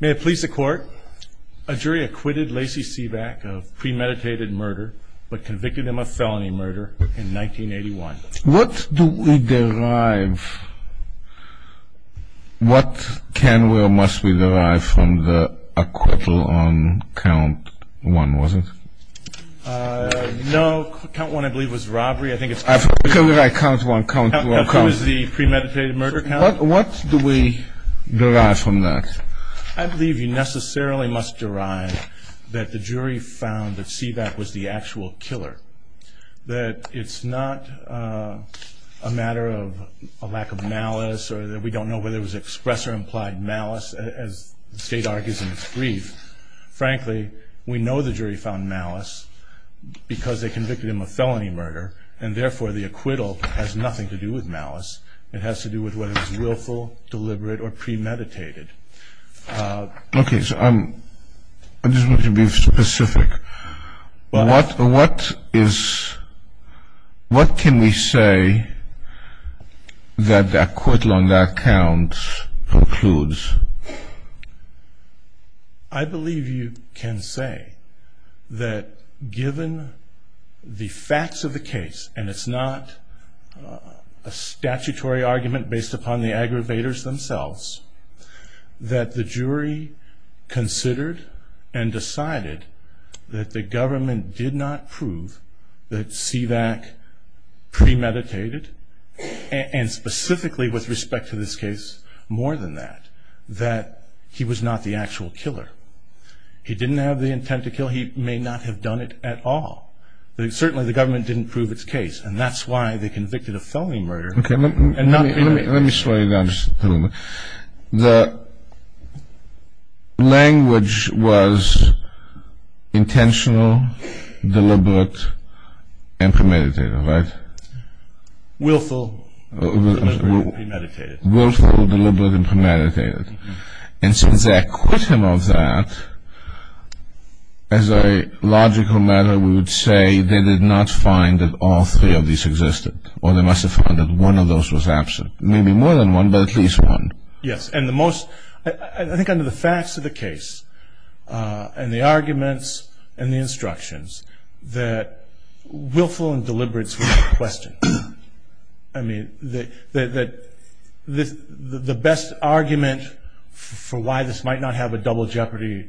May it please the court, a jury acquitted Lacey Sivak of premeditated murder, but convicted him of felony murder in 1981. What do we derive, what can or must we derive from the equivalent count one, was it? No, count one I believe was robbery, I think it's robbery. I thought you said count one, count two. It was the premeditated murder count. What do we derive from that? I believe you necessarily must derive that the jury found that Sivak was the actual killer, that it's not a matter of a lack of malice or that we don't know whether it was express or implied malice as the state argues in the brief. Frankly, we know the jury found malice because they convicted him of felony murder and therefore the acquittal has nothing to do with malice. It has to do with whether it was willful, deliberate, or premeditated. Okay, so I'm just going to be specific. What is, what can we say that the acquittal on that count concludes? I believe you can say that given the facts of the case and it's not a statutory argument based upon the aggravators themselves, that the jury considered and decided that the government did not prove that Sivak premeditated and specifically with respect to this case more than that, that he was not the actual killer. He didn't have the intent to kill. He may not have done it at all, but certainly the government didn't prove its case and that's why they convicted of felony murder and not premeditated. Let me just tell you, the language was intentional, deliberate, and premeditated, right? Willful, deliberate, and premeditated. Willful, deliberate, and premeditated. And so the acquittal of that, as a logical matter, we would say they did not find that all three of these existed or they must have found that one of those was absent. Maybe more than one, but at least one. Yes, and the most, I think under the facts of the case and the arguments and the instructions, that willful and deliberate is the question. I mean, the best argument for why this might not have a double jeopardy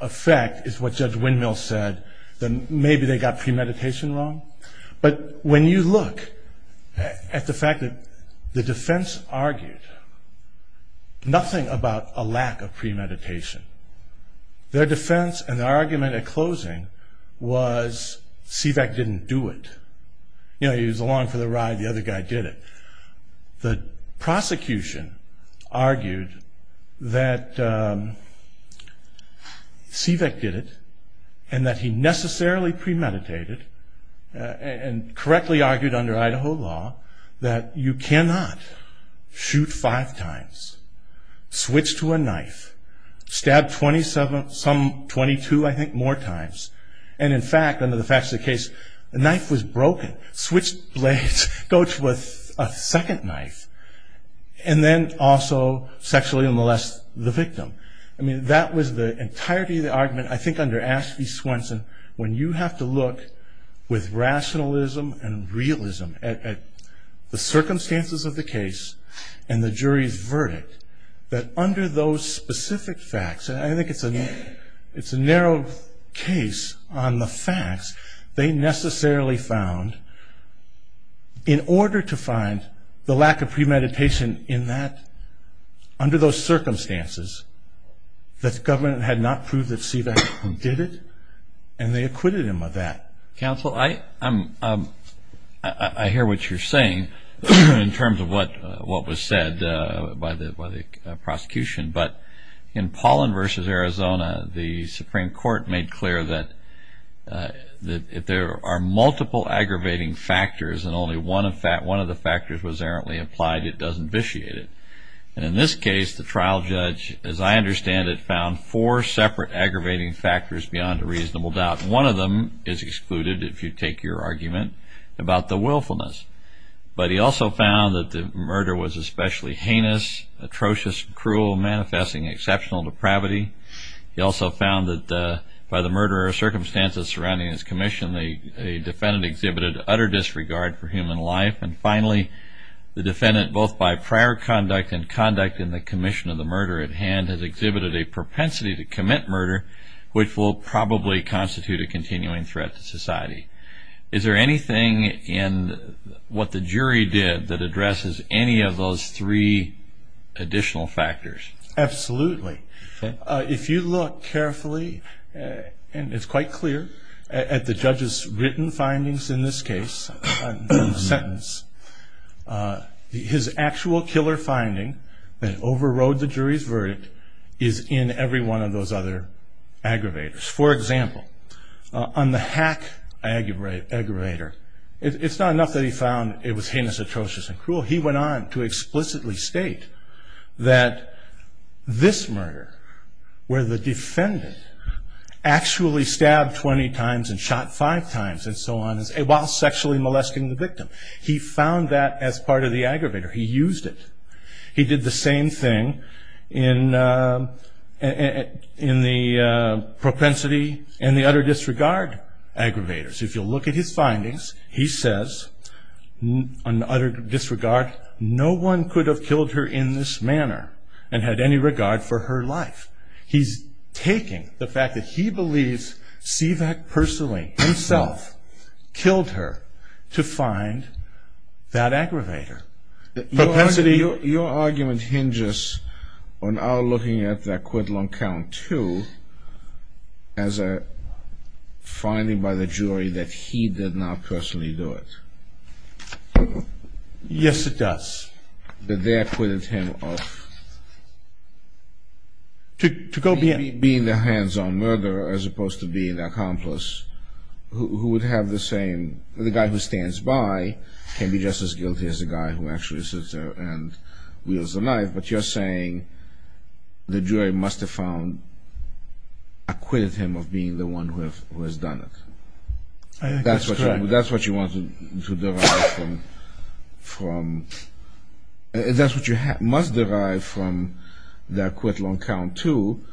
effect is what Judge Windmill said, that maybe they got premeditation wrong. But when you look at the fact that the defense argued nothing about a lack of premeditation, their defense and argument at closing was Seebeck didn't do it. You know, he was along for the ride, the other guy did it. The prosecution argued that Seebeck did it and that he necessarily premeditated and correctly argued under Idaho law that you cannot shoot five times, switch to a knife, stab 27, some 22, I think, more times, and in fact, under the facts of the case, the knife was broken, switch blade, go to a second knife, and then also sexually molest the victim. I mean, that was the entirety of the argument, I think, under Askey-Swenson, when you have to look with rationalism and realism at the circumstances of the case and the jury's verdict that under those specific facts, and I think it's a narrow case on the facts, they necessarily found in order to find the lack of premeditation in that, under those circumstances, that the government had not proved that Seebeck did it and they acquitted him of that. Counsel, I hear what you're saying in terms of what was said by the prosecution, but in Paulin v. Arizona, the Supreme Court made clear that if there are multiple aggravating factors and only one of the factors was errantly implied, it doesn't vitiate it. And in this case, the trial judge, as I understand it, found four separate aggravating factors beyond a reasonable doubt. One of them is excluded, if you take your argument, about the willfulness. But he also found that the murder was especially heinous, atrocious, cruel, manifesting exceptional depravity. He also found that by the murder or circumstances surrounding his commission, a defendant exhibited utter disregard for human life. And finally, the defendant, both by prior conduct and conduct in the commission of the murder at hand, has exhibited a propensity to commit murder, which will probably constitute a continuing threat to society. Is there anything in what the jury did that addresses any of those three additional factors? Absolutely. If you look carefully, and it's quite clear, at the judge's written findings in this case, sentence, his actual killer finding that overrode the jury's verdict is in every one of those other aggravators. For example, on the hack aggravator, it's not enough that he found it was heinous, atrocious, and cruel. He went on to explicitly state that this murder, where the defendant actually stabbed 20 times and shot five times and so on, while sexually molesting the victim, he found that as part of the aggravator. He used it. He did the same thing in the propensity and the utter disregard aggravators. If you look at his findings, he says, on utter disregard, no one could have killed her in this manner and had any regard for her life. He's taking the fact that he believes Sivak personally himself killed her to find that aggravator. Your argument hinges on our looking at the acquittal on count two as a finding by the jury that he did not personally do it. Yes, it does. That there quitted him of being the hands-on murderer as opposed to being the accomplice, who would have the same, the guy who stands by can be just as guilty as the guy who actually sits there and wields a knife, but you're saying the jury must have found, acquitted him of being the one who has done it. That's what you want to derive from, that's what you must derive from the acquittal on count two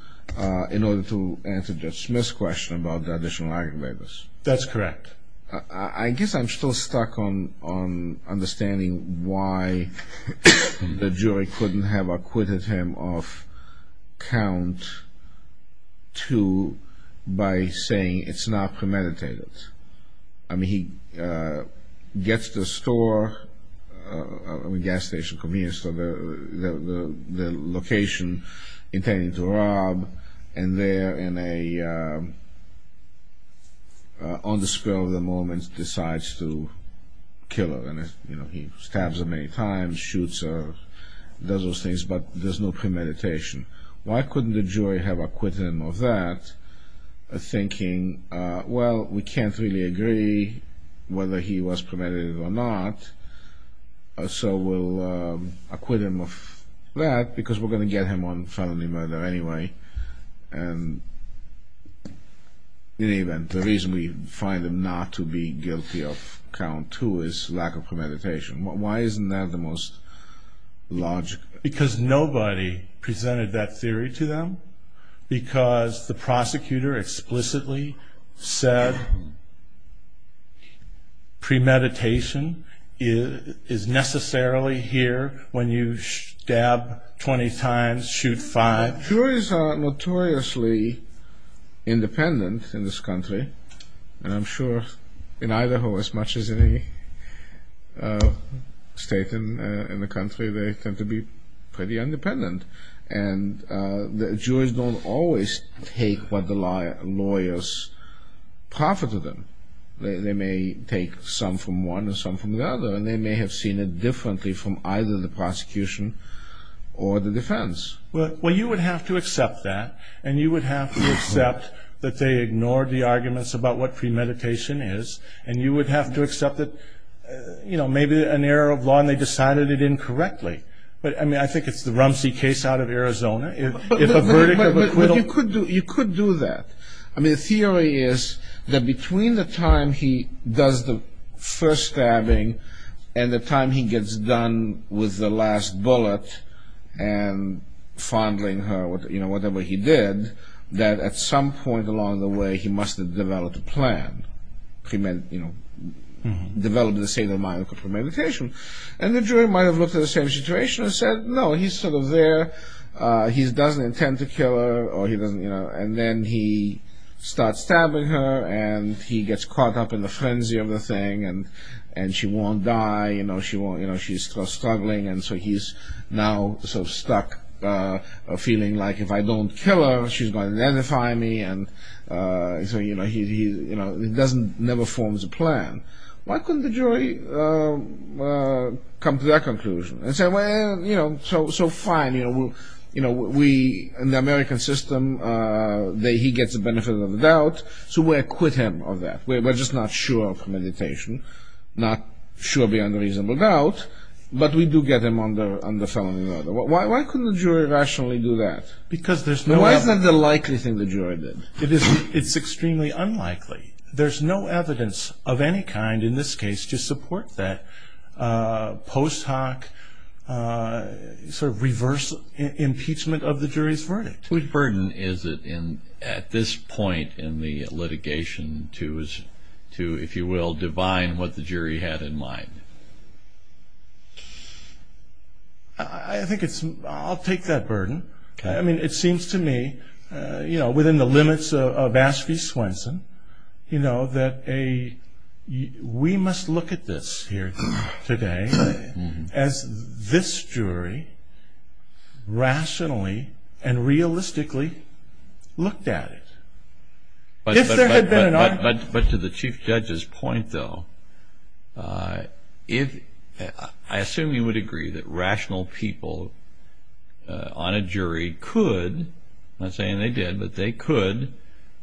in order to answer Judge Smith's question about the additional aggravators. That's correct. I guess I'm still stuck on understanding why the jury couldn't have acquitted him of count two by saying it's not premeditated. I mean, he gets the store, the gas station, convenience store, the location he intended to rob, and there on the spur of the moment decides to kill her. He stabs her many times, shoots her, does those things, but there's no premeditation. Why couldn't the jury have acquitted him of that, thinking, well, we can't really agree whether he was premeditated or not, so we'll acquit him of that because we're going to get him on felony murder anyway, and in any event, the reason we find him not to be guilty of count two is lack of premeditation. Why isn't that the most logical? Because nobody presented that theory to them? Because the prosecutor explicitly said premeditation is necessarily here when you stab 20 times, shoot five? Juries are notoriously independent in this country, and I'm sure in Idaho as much as in any state in the country, they tend to be pretty independent, and the juries don't always take what the lawyers proffer to them. They may take some from one or some from the other, and they may have seen it differently from either the prosecution or the defense. Well, you would have to accept that, and you would have to accept that they ignored the arguments about what premeditation is, and you would have to accept that, you know, maybe an error of law and they decided it incorrectly. I mean, I think it's the Rumsey case out of Arizona. You could do that. I mean, the theory is that between the time he does the first stabbing and the time he gets done with the last bullet, and fondling her, you know, whatever he did, that at some point along the way he must have developed a plan, you know, developed a state of mind for premeditation, and the jury might have looked at the same situation and said, no, he's sort of there, he doesn't intend to kill her, and then he starts stabbing her, and he gets caught up in the frenzy of the thing, and she won't die, you know, she's struggling, and so he's now sort of stuck feeling like if I don't kill her, she's going to identify me, and so, you know, he doesn't, never forms a plan. Why couldn't the jury come to that conclusion and say, well, you know, so fine, you know, we, in the American system, he gets the benefit of the doubt, so we'll acquit him of that. We're just not sure of premeditation, not sure beyond a reasonable doubt, but we do get him under felony murder. Why couldn't the jury rationally do that? Why isn't that the likely thing the jury did? It's extremely unlikely. There's no evidence of any kind in this case to support that post hoc sort of reverse impeachment of the jury's verdict. Whose burden is it at this point in the litigation to, if you will, divine what the jury had in mind? I think it's, I'll take that burden. Okay. I mean, it seems to me, you know, within the limits of Aspie Swenson, you know, that we must look at this here today as this jury rationally and realistically looked at it. If there had been an argument. But to the chief judge's point, though, I assume you would agree that rational people on a jury could, I'm not saying they did, but they could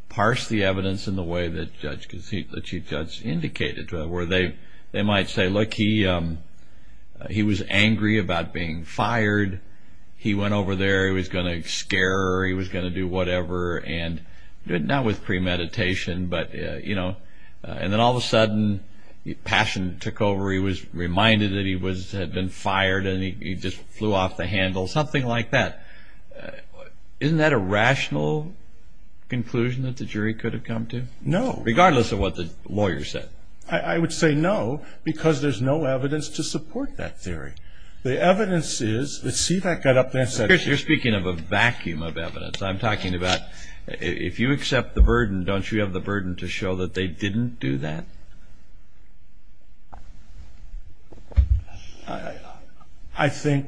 parse the evidence in the way that the chief judge indicated. Where they might say, look, he was angry about being fired. He went over there. He was going to scare her. He was going to do whatever. And that was premeditation. But, you know, and then all of a sudden passion took over. He was reminded that he had been fired and he just flew off the handle. Something like that. Isn't that a rational conclusion that the jury could have come to? No. Regardless of what the lawyer said. I would say no, because there's no evidence to support that theory. The evidence is, see that guy up there? Chris, you're speaking of a vacuum of evidence. I'm talking about if you accept the burden, don't you have the burden to show that they didn't do that? I think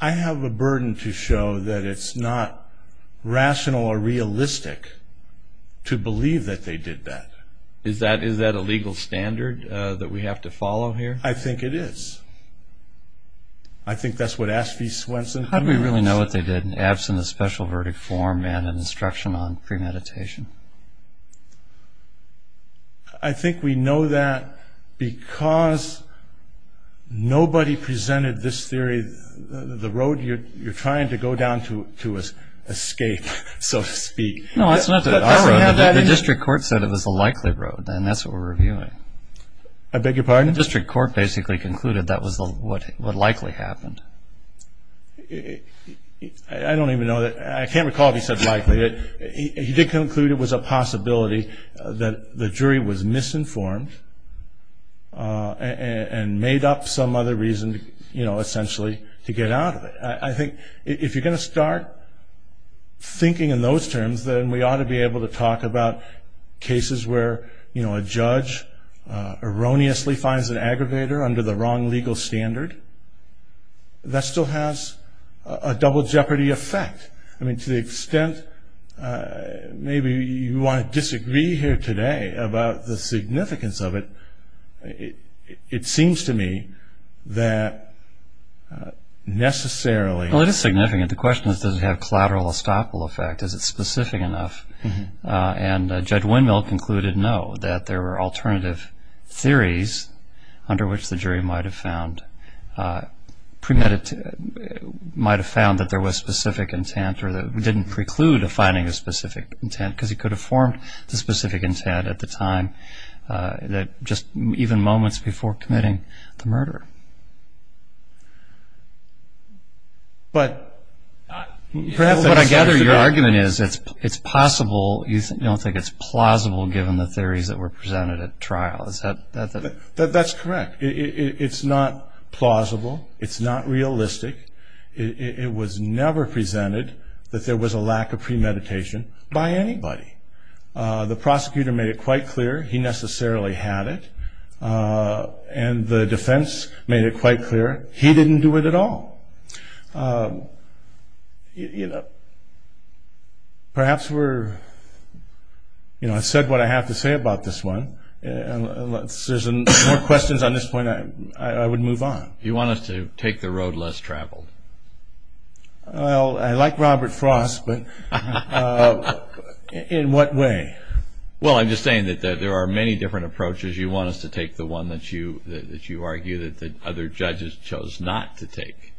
I have a burden to show that it's not rational or realistic to believe that they did that. Is that a legal standard that we have to follow here? I think it is. I think that's what Aspie Swenson said. How do we really know what they did, absent a special verdict form and an instruction on premeditation? I think we know that because nobody presented this theory, the road you're trying to go down to escape, so to speak. No, that's not what I wrote. The district court said it was a likely road. And that's what we're reviewing. I beg your pardon? The district court basically concluded that was what likely happened. I don't even know. I can't recall if he said likely. He did conclude it was a possibility that the jury was misinformed and made up some other reason, you know, essentially, to get out of it. I think if you're going to start thinking in those terms, then we ought to be able to talk about cases where, you know, a judge erroneously finds an aggravator under the wrong legal standard. That still has a double jeopardy effect. I mean, to the extent maybe you want to disagree here today about the significance of it, it seems to me that necessarily. Well, it is significant. The question is, does it have a collateral estoppel effect? Is it specific enough? And Judge Winmelt concluded no, that there were alternative theories under which the jury might have found that there was specific intent or that it didn't preclude the finding of specific intent because he could have formed the specific intent at the time, just even moments before committing the murder. But I gather your argument is it's possible. You don't think it's plausible given the theories that were presented at trial. That's correct. It's not plausible. It's not realistic. It was never presented that there was a lack of premeditation by anybody. The prosecutor made it quite clear. He necessarily had it. And the defense made it quite clear. He didn't do it at all. Perhaps we're, you know, I've said what I have to say about this one. Unless there's more questions on this point, I would move on. Do you want us to take the road less traveled? Well, I like Robert Frost, but in what way? Well, I'm just saying that there are many different approaches. You want us to take the one that you argue that other judges chose not to take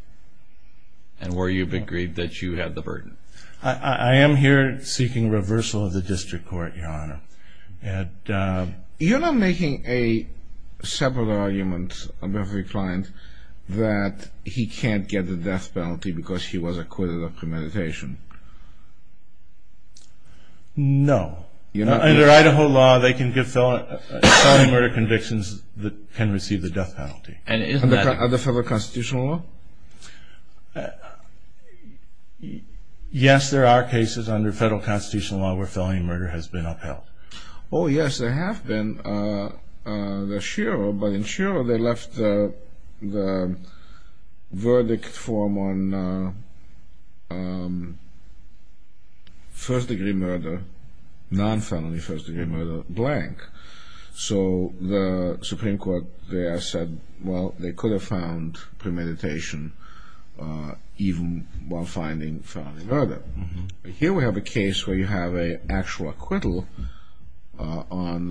and where you've agreed that you have the burden. I am here seeking reversal of the district court, Your Honor. And you're not making a separate argument about the client that he can't get the death penalty because he was acquitted of premeditation. No. Under Idaho law, they can give felony murder convictions that can receive the death penalty. Under federal constitutional law? Yes, there are cases under federal constitutional law where felony murder has been upheld. Oh, yes, there have been. But in Shiro, they left the verdict form on first-degree murder, non-felony first-degree murder blank. So the Supreme Court there said, well, they could have found premeditation even while finding felony murder. Here we have a case where you have an actual acquittal on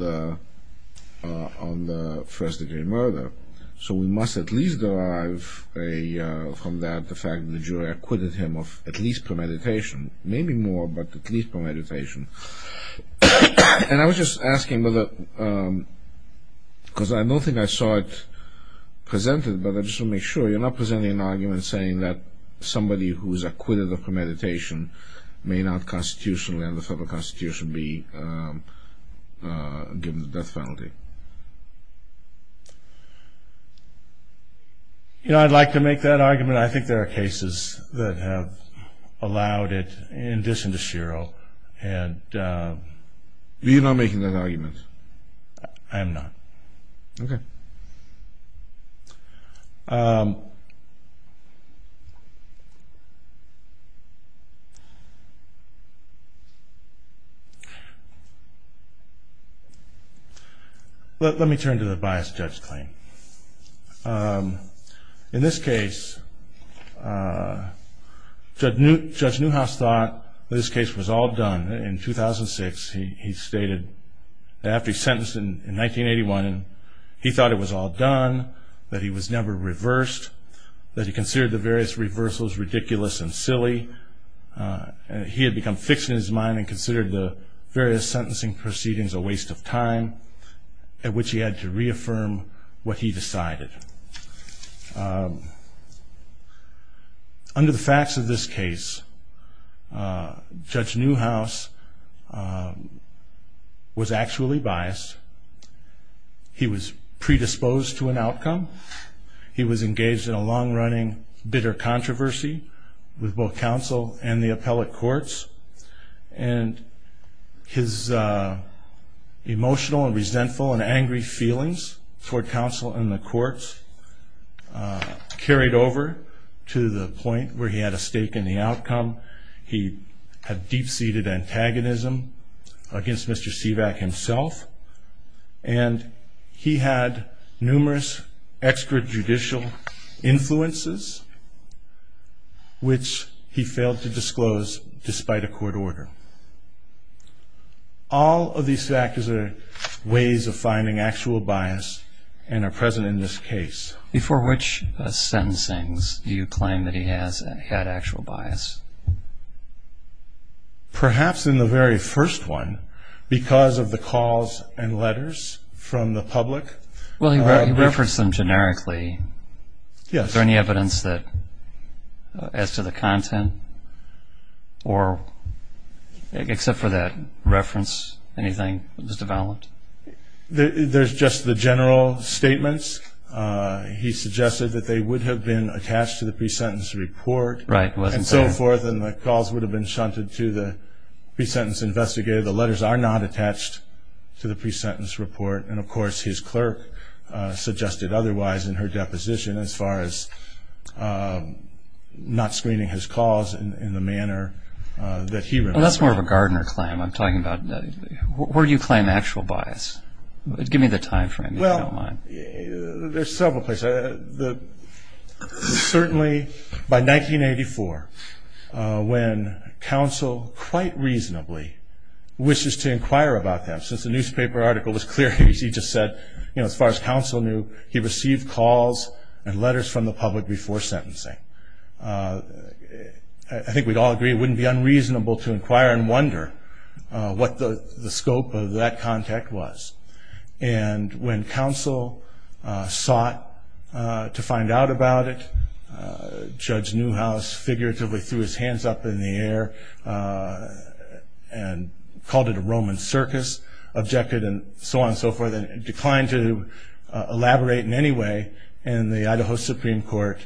the first-degree murder. So we must at least derive from that the fact that the jury acquitted him of at least premeditation, maybe more, but at least premeditation. And I was just asking whether, because I don't think I saw it presented, but I just want to make sure you're not presenting an argument saying that somebody who's acquitted of premeditation may not constitutionally under federal constitution be given the death penalty. You know, I'd like to make that argument. I think there are cases that have allowed it in this industrial. You're not making that argument? I am not. Okay. Let me turn to the biased test claim. In this case, Judge Newhouse thought that this case was all done. In 2006, he stated that after he was sentenced in 1981, he thought it was all done, that he was never reversed, that he considered the various reversals ridiculous and silly. He had become fixed in his mind and considered the various sentencing proceedings a waste of time, at which he had to reaffirm what he decided. Under the facts of this case, Judge Newhouse was actually biased. He was predisposed to an outcome. He was engaged in a long-running bitter controversy with both counsel and the appellate courts, and his emotional and resentful and angry feelings toward counsel and the courts carried over to the point where he had a stake in the outcome. He had deep-seated antagonism against Mr. Sivak himself, and he had numerous extrajudicial influences, which he failed to disclose despite a court order. All of these factors are ways of finding actual bias and are present in this case. Before which sentencing do you claim that he had actual bias? Perhaps in the very first one, because of the calls and letters from the public. Well, he referenced them generically. Yes. Is there any evidence that adds to the content, or except for that reference, anything was developed? There's just the general statements. He suggested that they would have been attached to the pre-sentence report. Right. And so forth, and the calls would have been shunted to the pre-sentence investigator. The letters are not attached to the pre-sentence report. And, of course, his clerk suggested otherwise in her deposition as far as not screening his calls in the manner that he referred. Well, that's more of a Gardner claim I'm talking about. Where do you claim actual bias? Give me the time frame, if you don't mind. Well, there's several places. Certainly, by 1984, when counsel quite reasonably wishes to inquire about that, since the newspaper article was clear, as you just said, as far as counsel knew, he received calls and letters from the public before sentencing. I think we'd all agree it wouldn't be unreasonable to inquire and wonder what the scope of that contact was. And when counsel sought to find out about it, Judge Newhouse figuratively threw his hands up in the air and called it a Roman circus, objected, and so on and so forth, and declined to elaborate in any way, and the Idaho Supreme Court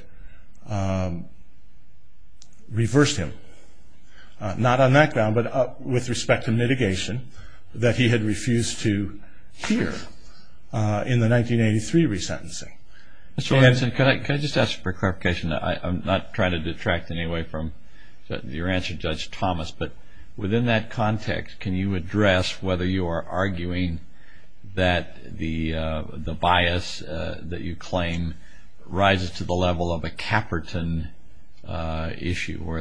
reversed him. Not on that ground, but with respect to mitigation that he had refused to hear in the 1983 resentencing. Can I just ask for clarification? I'm not trying to detract in any way from your answer, Judge Thomas, but within that context, can you address whether you are arguing that the bias that you claim rises to the level of a Caperton issue or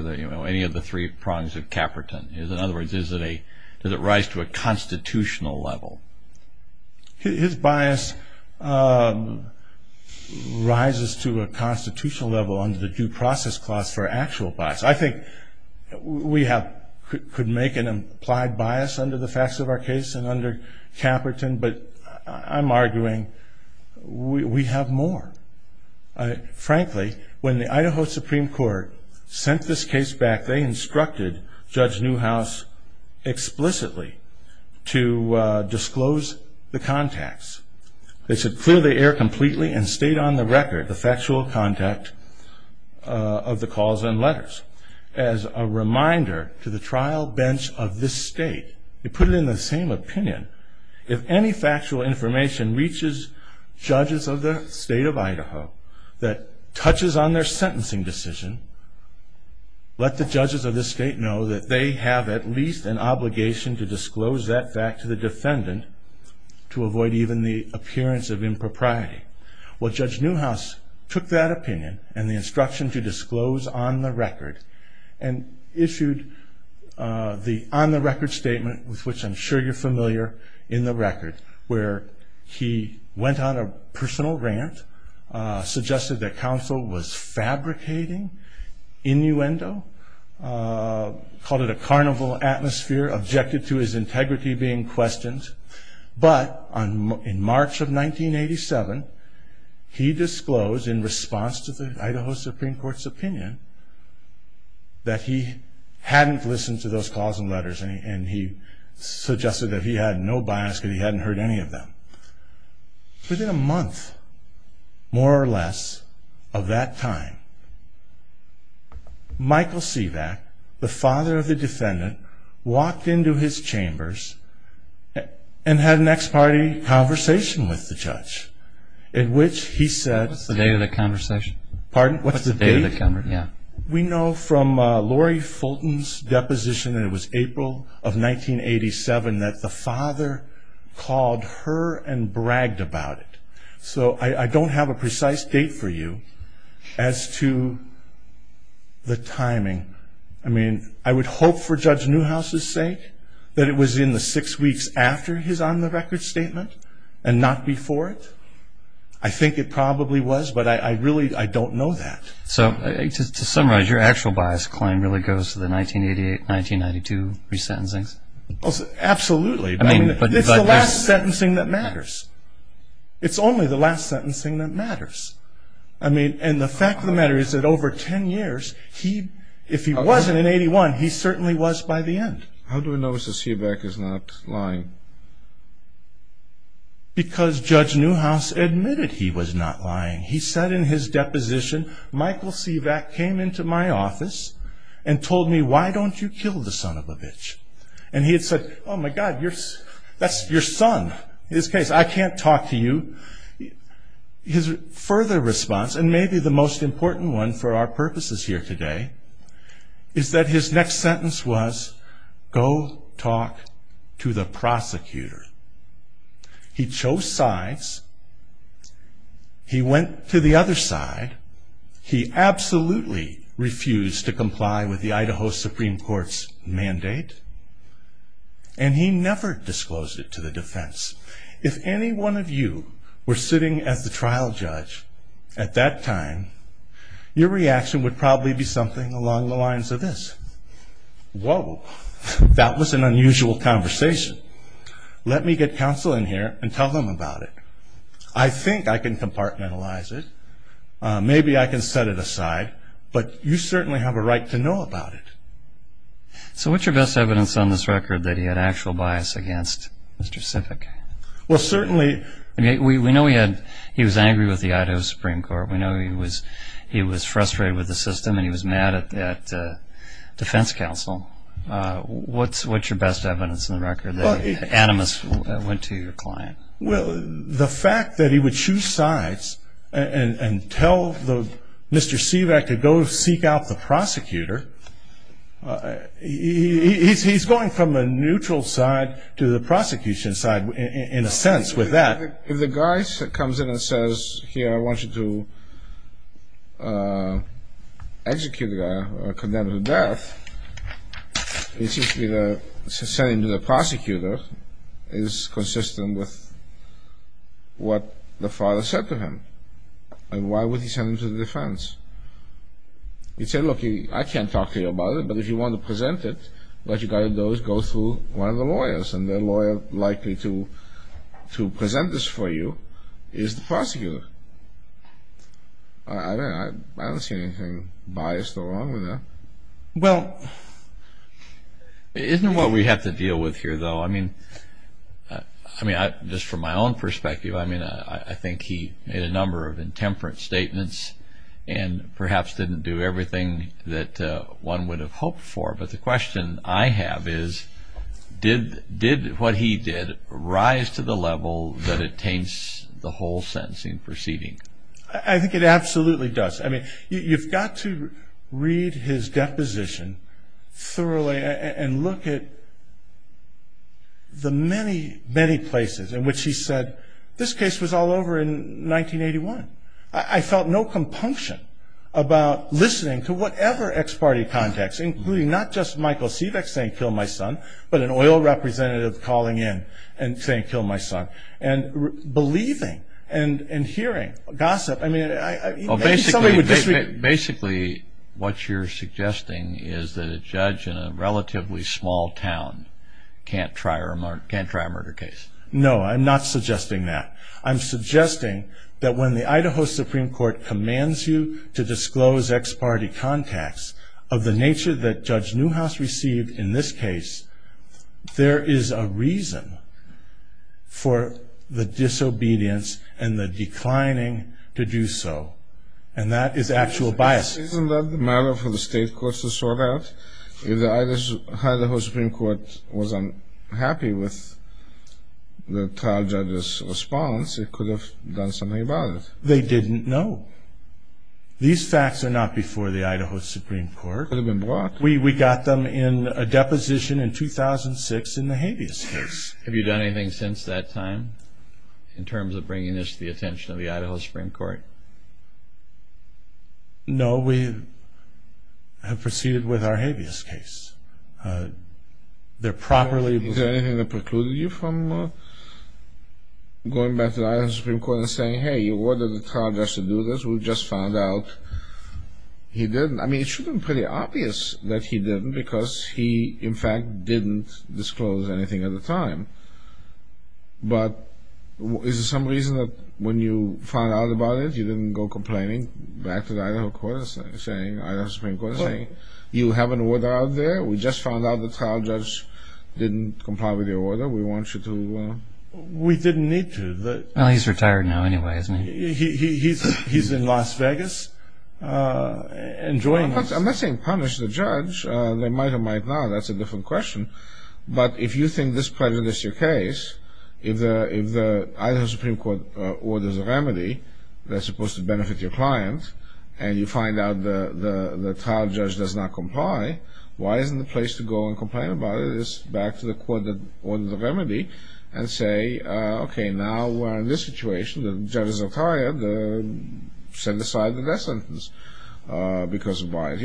any of the three prongs of Caperton? In other words, does it rise to a constitutional level? His bias rises to a constitutional level under the due process clause for actual bias. I think we could make an implied bias under the facts of our case and under Caperton, but I'm arguing we have more. Frankly, when the Idaho Supreme Court sent this case back, they instructed Judge Newhouse explicitly to disclose the contacts. They said clear the air completely and state on the record the factual contact of the calls and letters. As a reminder to the trial bench of this state, they put it in the same opinion. If any factual information reaches judges of the state of Idaho that touches on their sentencing decision, let the judges of this state know that they have at least an obligation to disclose that back to the defendant to avoid even the appearance of impropriety. Well, Judge Newhouse took that opinion and the instruction to disclose on the record and issued the on the record statement, which I'm sure you're familiar in the record, where he went on a personal rant, suggested that counsel was fabricating innuendo, called it a carnival atmosphere, objected to his integrity being questioned. But in March of 1987, he disclosed in response to the Idaho Supreme Court's opinion that he hadn't listened to those calls and letters and he suggested that he had no bias and he hadn't heard any of them. Within a month, more or less, of that time, Michael Sivak, the father of the defendant, walked into his chambers and had an ex parte conversation with the judge in which he said The day of the conversation? Pardon? The day of the conversation, yeah. We know from Lori Fulton's deposition that it was April of 1987 that the father called her and bragged about it. So I don't have a precise date for you as to the timing. I mean, I would hope for Judge Newhouse's sake that it was in the six weeks after his on the record statement and not before it. I think it probably was, but I really, I don't know that. So to summarize, your actual bias claim really goes to the 1992 resentencing? Absolutely. I mean, it's the last sentencing that matters. It's only the last sentencing that matters. And the fact of the matter is that over 10 years, if he wasn't in 81, he certainly was by the end. How do we know that Sivak is not lying? Because Judge Newhouse admitted he was not lying. He said in his deposition, Michael Sivak came into my office and told me, why don't you kill the son of a bitch? And he said, oh my God, that's your son. In this case, I can't talk to you. His further response, and maybe the most important one for our purposes here today, is that his next sentence was, go talk to the prosecutor. He chose sides. He went to the other side. He absolutely refused to comply with the Idaho Supreme Court's mandate. And he never disclosed it to the defense. If any one of you were sitting at the trial judge at that time, your reaction would probably be something along the lines of this. Whoa. That was an unusual conversation. Let me get counsel in here and tell them about it. I think I can compartmentalize it. Maybe I can set it aside. But you certainly have a right to know about it. So what's your best evidence on this record that he had actual bias against Mr. Sivak? Well, certainly. We know he was angry with the Idaho Supreme Court. We know he was frustrated with the system and he was mad at the defense counsel. What's your best evidence on the record that he was anonymous and went to your client? Well, the fact that he would choose sides and tell Mr. Sivak to go seek out the prosecutor, he's going from a neutral side to the prosecution side, in a sense, with that. If the guy comes in and says, here, I want you to execute a guy or condemn him to death, it's just that sending him to the prosecutor is consistent with what the father said to him. And why would he send him to the defense? You say, look, I can't talk to you about it, but if you want to present it, what you got to do is go through one of the lawyers. And the lawyer likely to present this for you is the prosecutor. I don't see anything biased or wrong with that. Well, isn't it what we have to deal with here, though? I mean, just from my own perspective, I mean, I think he made a number of intemperate statements and perhaps didn't do everything that one would have hoped for. But the question I have is, did what he did rise to the level that it taints the whole sentencing proceeding? I think it absolutely does. I mean, you've got to read his deposition thoroughly and look at the many, many places in which he said, this case was all over in 1981. I felt no compunction about listening to whatever ex-party contacts, including not just Michael Seebeck saying, kill my son, but an oil representative calling in and saying, kill my son, and believing and hearing gossip. Basically, what you're suggesting is that a judge in a relatively small town can't try a murder case. No, I'm not suggesting that. I'm suggesting that when the Idaho Supreme Court commands you to disclose ex-party contacts of the nature that Judge Newhouse received in this case, there is a reason for the disobedience and the declining to do so, and that is actual bias. Isn't that the matter for the state courts to sort out? If the Idaho Supreme Court wasn't happy with the trial judge's response, it could have done something about it. They didn't know. These facts are not before the Idaho Supreme Court. We got them in a deposition in 2006 in the Hades case. Have you done anything since that time in terms of bringing this to the attention of the Idaho Supreme Court? No, we have proceeded with our Hades case. Was there anything that precluded you from going back to the Idaho Supreme Court and saying, hey, you ordered the trial judge to do this? We just found out he didn't. I mean, it should have been pretty obvious that he didn't because he, in fact, didn't disclose anything at the time. But is there some reason that when you found out about it, you didn't go complaining back to the Idaho Supreme Court saying, you have an order out there, we just found out the trial judge didn't comply with your order, we want you to? We didn't need to. Well, he's retired now anyway, isn't he? He's in Las Vegas. I'm not saying punish the judge. They might or might not, that's a different question. But if you think this prejudice is your case, if the Idaho Supreme Court orders a remedy that's supposed to benefit your client, and you find out the trial judge does not comply, why isn't the place to go and complain about it is back to the court that ordered the remedy and say, okay, now we're in this situation, the judges are tired, send aside the death sentence because of bias.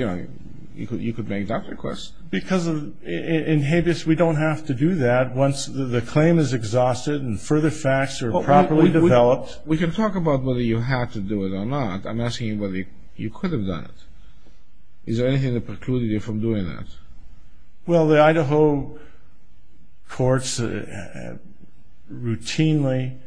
You could make that request. Because in Habeas, we don't have to do that once the claim is exhausted and further facts are properly developed. We can talk about whether you had to do it or not. I'm asking whether you could have done it. Is there anything that precludes you from doing that? Well, the Idaho courts routinely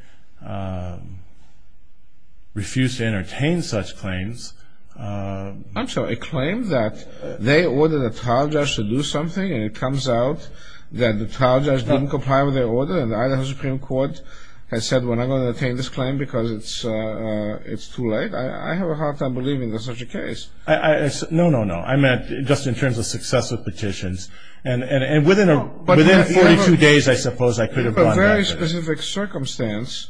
refuse to entertain such claims. I'm sorry, a claim that they ordered a trial judge to do something and it comes out that the trial judge didn't comply with their order and the Idaho Supreme Court has said we're not going to entertain this claim because it's too late? I have a hard time believing there's such a case. No, no, no. I meant just in terms of successful petitions. And within 42 days, I suppose, I could have done that. There's a very specific circumstance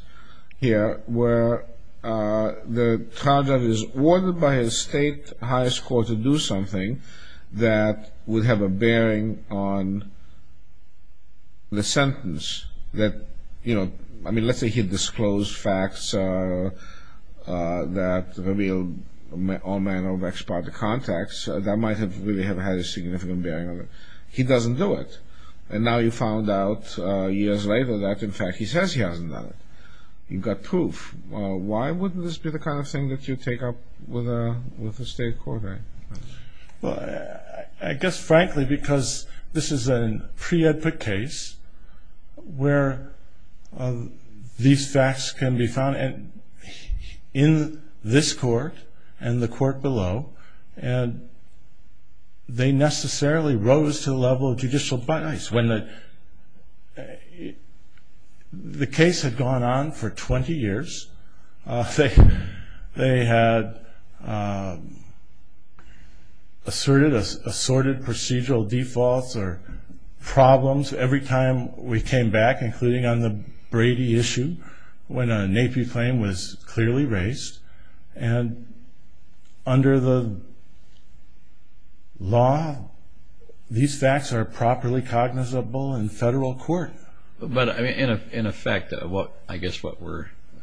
here where the trial judge is ordered by his state highest court to do something that would have a bearing on the sentence. I mean, let's say he disclosed facts that revealed all manner of expired contacts. That might have really had a significant bearing on it. He doesn't do it. And now you found out years later that, in fact, he says he hasn't done it. You've got proof. Why wouldn't this be the kind of thing that you'd take up with a state court? Well, I guess, frankly, because this is a pre-epic case where these facts can be found in this court and the court below. And they necessarily rose to the level of judicial bias. When the case had gone on for 20 years, they had assorted procedural defaults or problems every time we came back, including on the Brady issue, when a NAPI claim was clearly raised. And under the law, these facts are properly cognizable in federal court. But, in effect, I guess what we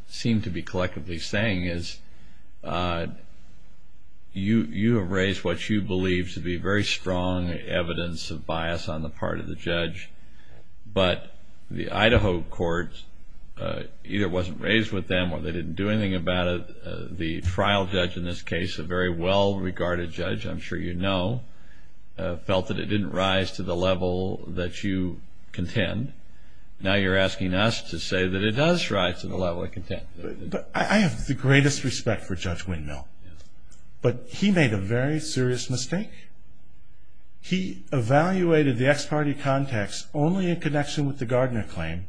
seem to be collectively saying is, you have raised what you believe to be very strong evidence of bias on the part of the judge. But the Idaho courts, either it wasn't raised with them or they didn't do anything about it. The trial judge in this case, a very well-regarded judge, I'm sure you know, felt that it didn't rise to the level that you contend. Now you're asking us to say that it does rise to the level it contends. I have the greatest respect for Judge Windmill. But he made a very serious mistake. He evaluated the ex parte context only in connection with the Gardner claim.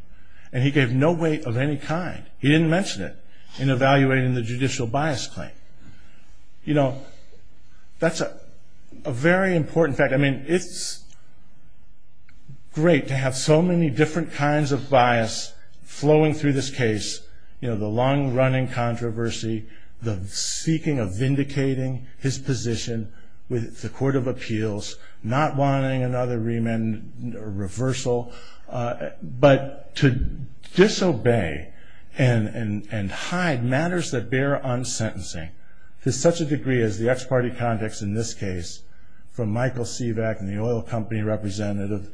And he gave no weight of any kind. He didn't mention it in evaluating the judicial bias claim. You know, that's a very important fact. I mean, it's great to have so many different kinds of bias flowing through this case. You know, the long-running controversy, the seeking of vindicating his position with the court of appeals, not wanting another remand or reversal, but to disobey and hide matters that bear on sentencing to such a degree as the ex parte context in this case from Michael Sivak and the oil company representative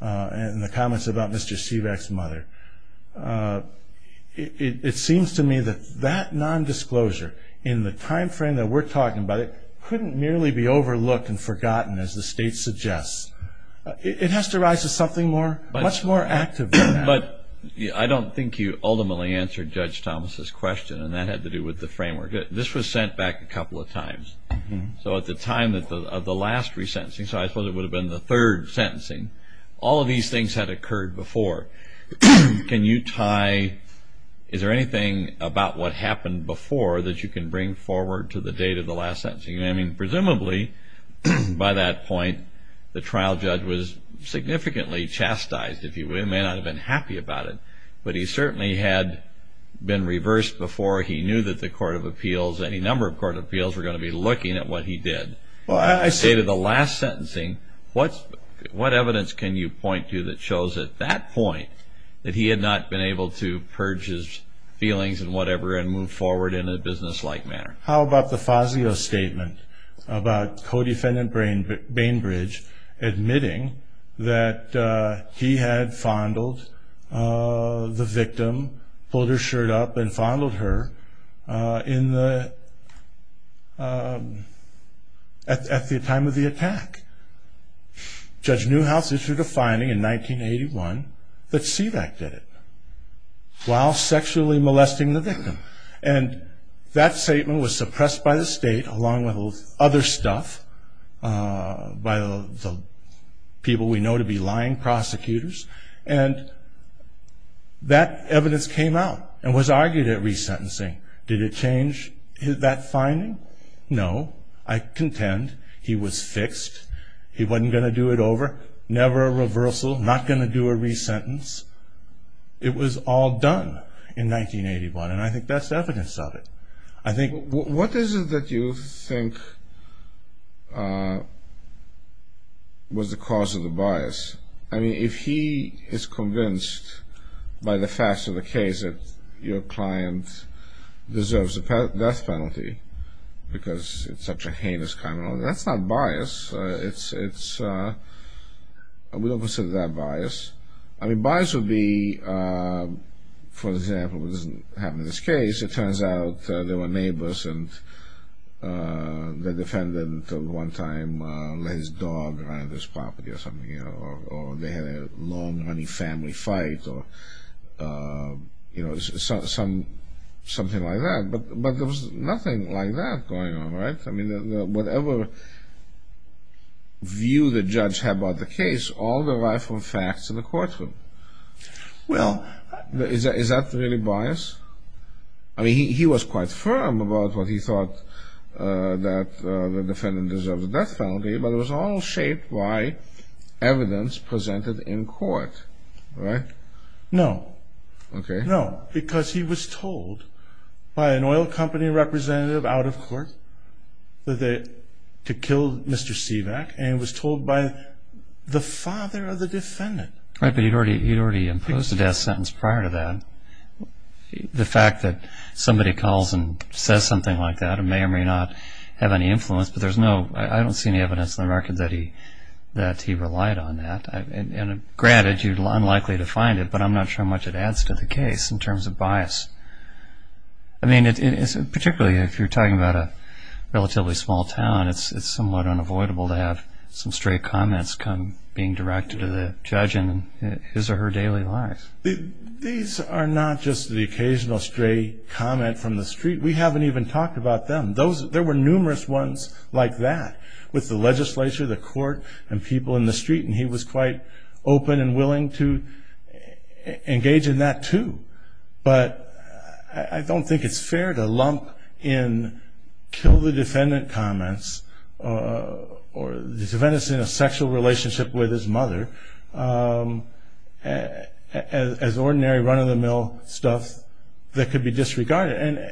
and the comments about Mr. Sivak's mother. It seems to me that that nondisclosure in the timeframe that we're talking about, it couldn't merely be overlooked and forgotten as the state suggests. It has to rise to something much more active than that. But I don't think you ultimately answered Judge Thomas's question, and that had to do with the framework. This was sent back a couple of times. So at the time of the last resentencing, so I suppose it would have been the third sentencing, all of these things had occurred before. Can you tie, is there anything about what happened before that you can bring forward to the date of the last sentencing? I mean, presumably by that point, the trial judge was significantly chastised, if you will. He may not have been happy about it, but he certainly had been reversed before. He knew that the Court of Appeals, any number of Court of Appeals, were going to be looking at what he did. I say to the last sentencing, what evidence can you point to that shows at that point that he had not been able to purge his feelings and whatever and move forward in a businesslike manner? How about the Fazio statement about co-defendant Bainbridge admitting that he had fondled the victim, pulled her shirt up and fondled her at the time of the attack? Judge Newhouse issued a finding in 1981 that SEDAC did it while sexually molesting the victim. And that statement was suppressed by the state along with other stuff by the people we know to be lying prosecutors. And that evidence came out and was argued at resentencing. Did it change that finding? No. I contend he was fixed. He wasn't going to do it over, never a reversal, not going to do a resentence. It was all done in 1981, and I think that's evidence of it. I think... What is it that you think was the cause of the bias? I mean, if he is convinced by the facts of the case that your client deserves a death penalty because it's such a heinous crime and all that, that's not bias. It's the opposite of that bias. I mean, bias would be, for example, it doesn't happen in this case. In this case, it turns out they were neighbors and the defendant at one time had his dog around his property or something, or they had a long-running family fight or something like that. But there was nothing like that going on, right? I mean, whatever view the judge had about the case, all derived from facts in the courtroom. Well, is that really bias? I mean, he was quite firm about what he thought that the defendant deserved a death penalty, but it was all shaped by evidence presented in court, right? No. Okay. No, because he was told by an oil company representative out of court to kill Mr. Stevak, and was told by the father of the defendant. Right, but he'd already imposed a death sentence prior to that. The fact that somebody calls and says something like that may or may not have any influence, but I don't see any evidence on the record that he relied on that. And granted, you're unlikely to find it, but I'm not sure how much it adds to the case in terms of bias. I mean, particularly if you're talking about a relatively small town, it's somewhat unavoidable to have some stray comments come being directed to the judge in his or her daily life. These are not just the occasional stray comment from the street. We haven't even talked about them. There were numerous ones like that with the legislature, the court, and people in the street, and he was quite open and willing to engage in that too. But I don't think it's fair to lump in kill the defendant comments or the defendant's sexual relationship with his mother as ordinary run-of-the-mill stuff that could be disregarded.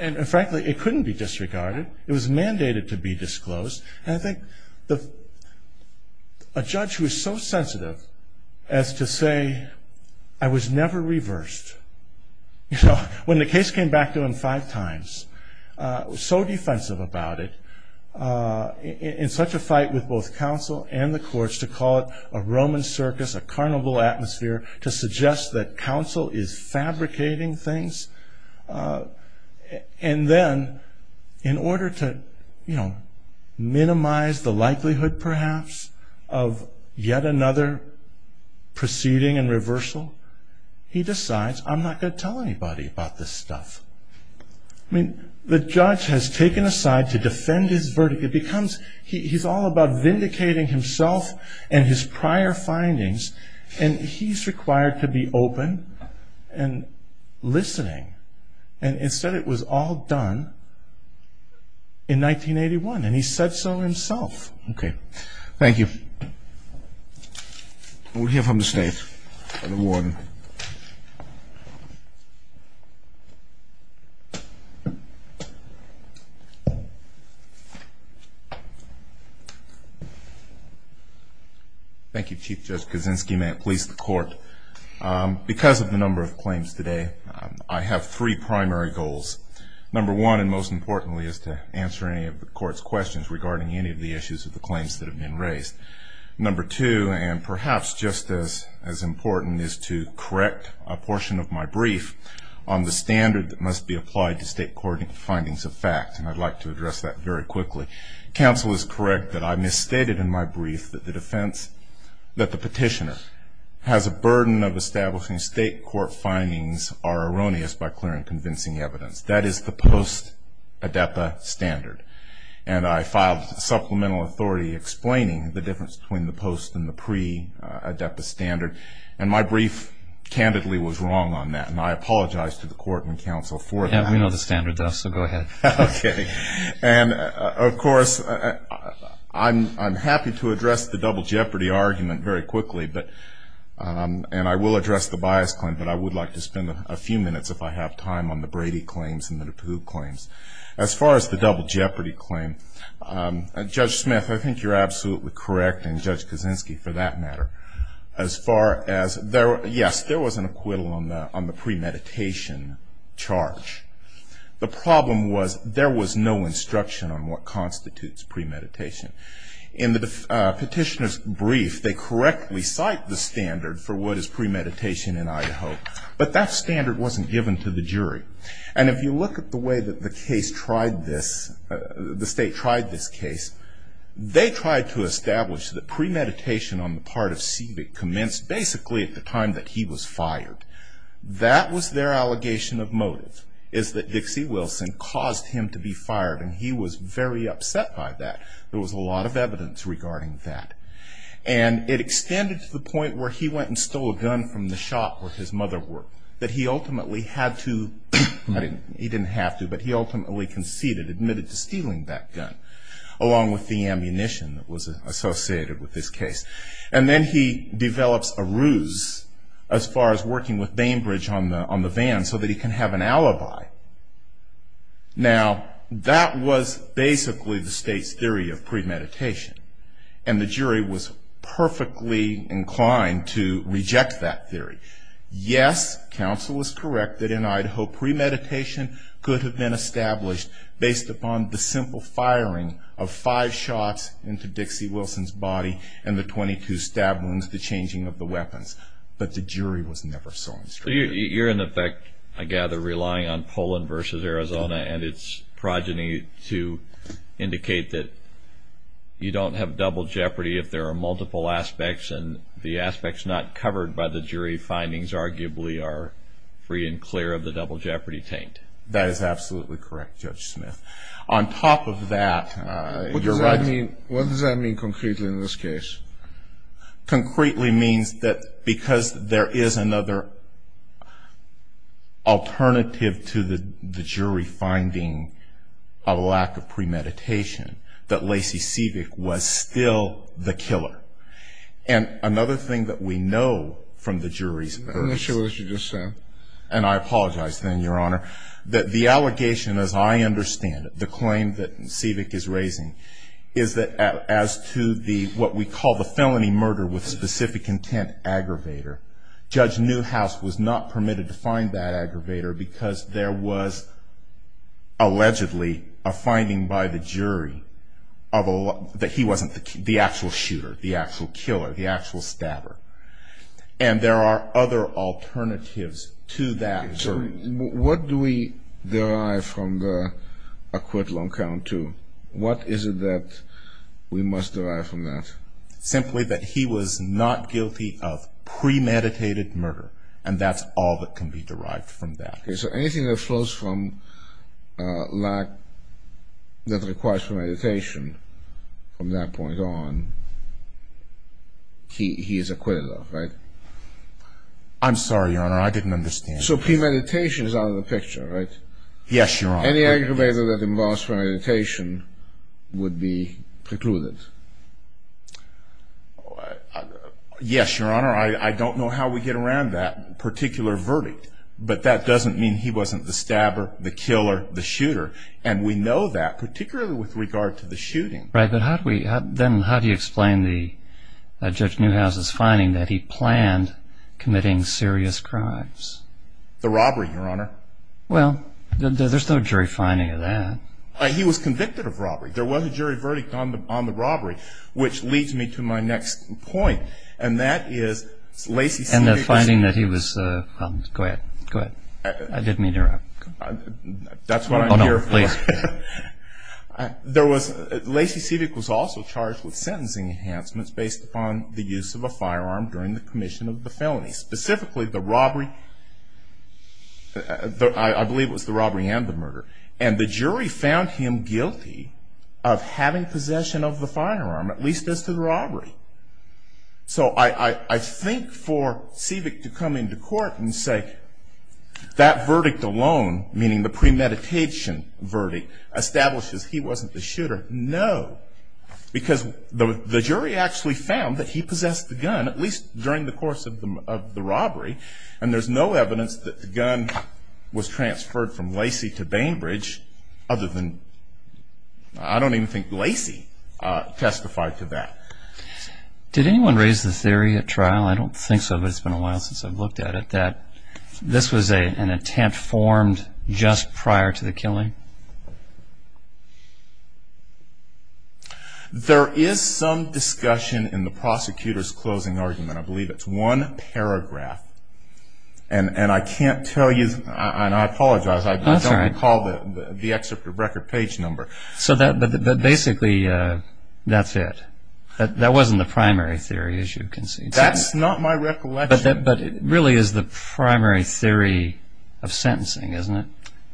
And frankly, it couldn't be disregarded. It was mandated to be disclosed. And I think a judge was so sensitive as to say, I was never reversed. So when the case came back to him five times, so defensive about it, in such a fight with both counsel and the courts to call it a Roman circus, a carnival atmosphere, to suggest that counsel is fabricating things. And then in order to, you know, minimize the likelihood perhaps of yet another proceeding and reversal, he decides, I'm not going to tell anybody about this stuff. I mean, the judge has taken a side to defend his verdict. He's all about vindicating himself and his prior findings, and he's required to be open and listening. And it said it was all done in 1981, and he said so himself. Okay. Thank you. We'll hear from the states. Thank you, Chief Judge Kaczynski. May it please the Court. Because of the number of claims today, I have three primary goals. Number one, and most importantly, is to answer any of the Court's questions regarding any of the issues of the claims that have been raised. Number two, and perhaps just as important, is to correct a portion of my brief on the standard that must be applied to state court findings of fact. And I'd like to address that very quickly. Counsel is correct that I misstated in my brief that the defense, that the petitioner has a burden of establishing state court findings are erroneous by clear and convincing evidence. That is the post-ADEPA standard. And I filed supplemental authority explaining the difference between the post- and the pre-ADEPA standard. And my brief, candidly, was wrong on that, and I apologize to the Court and counsel for that. I know the standard does, so go ahead. Okay. And, of course, I'm happy to address the double jeopardy argument very quickly, and I will address the bias claim, but I would like to spend a few minutes, if I have time, on the Brady claims and the DePauw claims. As far as the double jeopardy claim, Judge Smith, I think you're absolutely correct, and Judge Kaczynski, for that matter. As far as, yes, there was an acquittal on the premeditation charge. The problem was there was no instruction on what constitutes premeditation. In the petitioner's brief, they correctly cite the standard for what is premeditation in Idaho, but that standard wasn't given to the jury. And if you look at the way that the case tried this, the state tried this case, they tried to establish that premeditation on the part of Seebeck commenced basically at the time that he was fired. That was their allegation of motives, is that Dixie Wilson caused him to be fired, and he was very upset by that. There was a lot of evidence regarding that. And it extended to the point where he went and stole a gun from the shop where his mother worked, that he ultimately had to, he didn't have to, but he ultimately conceded, admitted to stealing that gun, along with the ammunition that was associated with this case. And then he developed a ruse as far as working with Bainbridge on the van so that he can have an alibi. Now, that was basically the state's theory of premeditation. And the jury was perfectly inclined to reject that theory. Yes, counsel is correct that in Idaho, premeditation could have been established based upon the simple firing of five shots into Dixie Wilson's body and the 22 stab wounds, the changing of the weapons. But the jury was never so instructed. You're, in effect, I gather, relying on Poland versus Arizona and its progeny to indicate that you don't have double jeopardy if there are multiple aspects and the aspects not covered by the jury findings arguably are free and clear of the double jeopardy taint. That is absolutely correct, Judge Smith. On top of that... What does that mean concretely in this case? Concretely means that because there is another alternative to the jury finding a lack of premeditation, that Lacey Siedek was still the killer. And another thing that we know from the jury's... I'm not sure what you just said. And I apologize then, Your Honor, that the allegation as I understand it, the claim that Siedek is raising, is that as to what we call the felony murder with specific intent aggravator, Judge Newhouse was not permitted to find that aggravator because there was allegedly a finding by the jury that he wasn't the actual shooter, the actual killer, the actual stabber. And there are other alternatives to that. So what do we derive from the acquittal on count two? What is it that we must derive from that? Simply that he was not guilty of premeditated murder. And that's all that can be derived from that. Okay, so anything that flows from lack that requires premeditation from that point on, he is acquitted of, right? I'm sorry, Your Honor. I didn't understand. So premeditation is out of the picture, right? Yes, Your Honor. Any aggravator that involves premeditation would be precluded. Yes, Your Honor. I don't know how we get around that particular verdict. But that doesn't mean he wasn't the stabber, the killer, the shooter. And we know that, particularly with regard to the shooting. Right, but then how do you explain Judge Newhouse's finding that he planned committing serious crimes? The robbery, Your Honor. Well, there's no jury finding of that. He was convicted of robbery. There was a jury verdict on the robbery, which leads me to my next point. And that is Lacey Siebeck was also charged with sentencing enhancements based upon the use of a firearm during the commission of the felony. Specifically the robbery, I believe it was the robbery and the murder. And the jury found him guilty of having possession of the firearm, at least as to the robbery. So I think for Siebeck to come into court and say that verdict alone, meaning the premeditation verdict, establishes he wasn't the shooter. No. Because the jury actually found that he possessed the gun, at least during the course of the robbery. And there's no evidence that the gun was transferred from Lacey to Bainbridge other than I don't even think Lacey testified to that. Did anyone raise the theory at trial? I don't think so, but it's been a while since I've looked at it, that this was an attempt formed just prior to the killing? There is some discussion in the prosecutor's closing argument, I believe it's one paragraph. And I can't tell you, and I apologize, I don't recall the executive record page number. So basically that's it. That wasn't the primary theory, as you can see. That's not my recollection. But it really is the primary theory of sentencing, isn't it?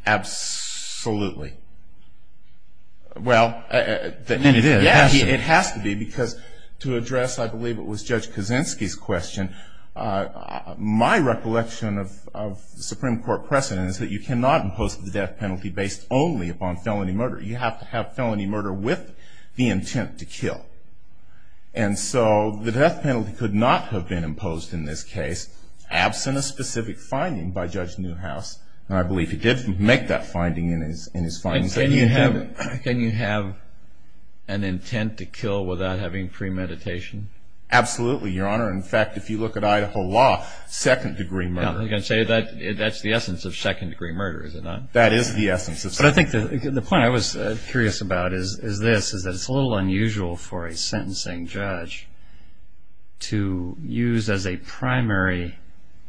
Absolutely. Well, it has to be, because to address, I believe it was Judge Kaczynski's question, my recollection of Supreme Court precedent is that you cannot impose the death penalty based only on felony murder. You have to have felony murder with the intent to kill. And so the death penalty could not have been imposed in this case, absent a specific finding by Judge Newhouse. I believe he did make that finding in his findings. Can you have an intent to kill without having premeditation? Absolutely, Your Honor. In fact, if you look at Idaho law, second degree murder. I was going to say, that's the essence of second degree murder, is it not? That is the essence. But I think the point I was curious about is this, is that it's a little unusual for a sentencing judge to use as a primary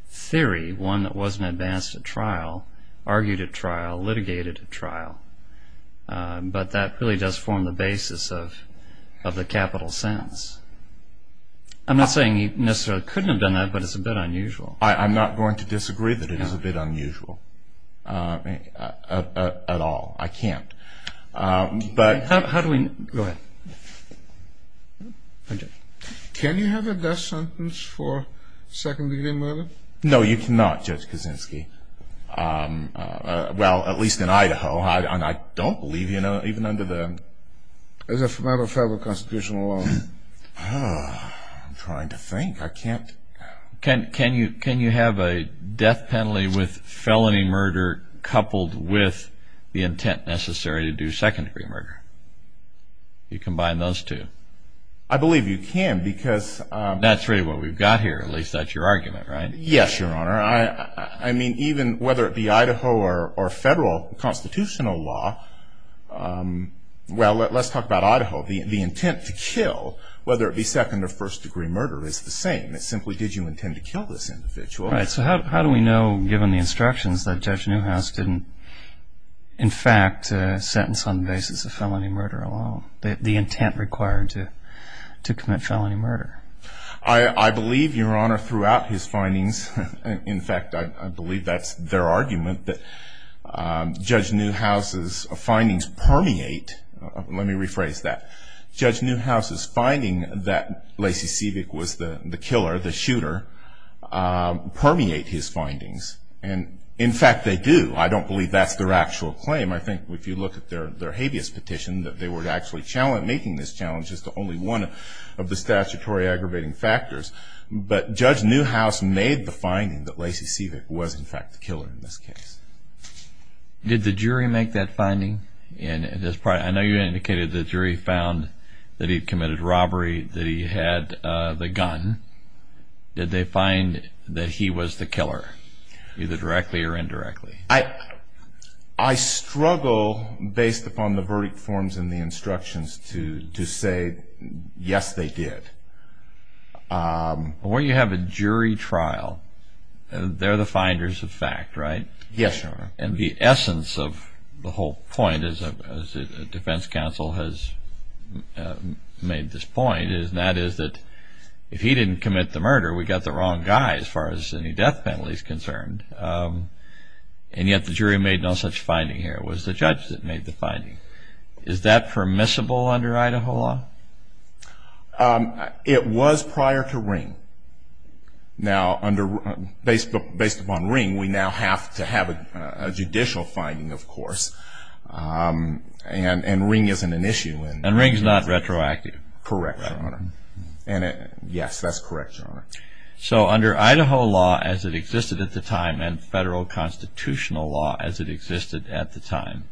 theory, one that wasn't advanced at trial, argued at trial, litigated at trial. But that really does form the basis of the capital sentence. I'm not saying he necessarily could have done that, but it's a bit unusual. I'm not going to disagree that it is a bit unusual at all. I can't. But how do we... Go ahead. Can you have a death sentence for second degree murder? No, you cannot, Judge Kaczynski. Well, at least in Idaho. And I don't believe even under the... It's not a federal constitutional law. I'm trying to think. Can you have a death penalty with felony murder coupled with the intent necessary to do second degree murder? You combine those two. I believe you can, because... That's really what we've got here. At least that's your argument, right? Yes, Your Honor. I mean, even whether it be Idaho or federal constitutional law, well, let's talk about Idaho. The intent to kill, whether it be second or first degree murder, is the same. It simply gives you intent to kill this individual. Right. So how do we know, given the instructions, that Judge Newhouse didn't, in fact, sentence on the basis of felony murder alone? The intent required to commit felony murder? I believe, Your Honor, throughout his findings... In fact, I believe that's their argument, that Judge Newhouse's findings permeate... Let me rephrase that. Judge Newhouse's finding that Lacey Siebeck was the killer, the shooter, permeate his findings. And, in fact, they do. I don't believe that's their actual claim. I think if you look at their habeas petition, that they were actually making this challenge. It's only one of the statutory aggravating factors. But Judge Newhouse made the finding that Lacey Siebeck was, in fact, the killer in this case. Did the jury make that finding? I know you indicated the jury found that he committed robbery, that he had the gun. Did they find that he was the killer, either directly or indirectly? I struggle, based upon the verdict forms and the instructions, to say, yes, they did. When you have a jury trial, they're the finders of fact, right? Yes, Your Honor. And the essence of the whole point, as the defense counsel has made this point, is that if he didn't commit the murder, we got the wrong guy, as far as any death penalty is concerned. And yet the jury made no such finding here. It was the judge that made the finding. Is that permissible under Idaho law? It was prior to Ring. Now, based upon Ring, we now have to have a judicial finding, of course. And Ring isn't an issue. And Ring's not retroactive. Correct, Your Honor. Yes, that's correct, Your Honor. So under Idaho law, as it existed at the time, and federal constitutional law, as it existed at the time,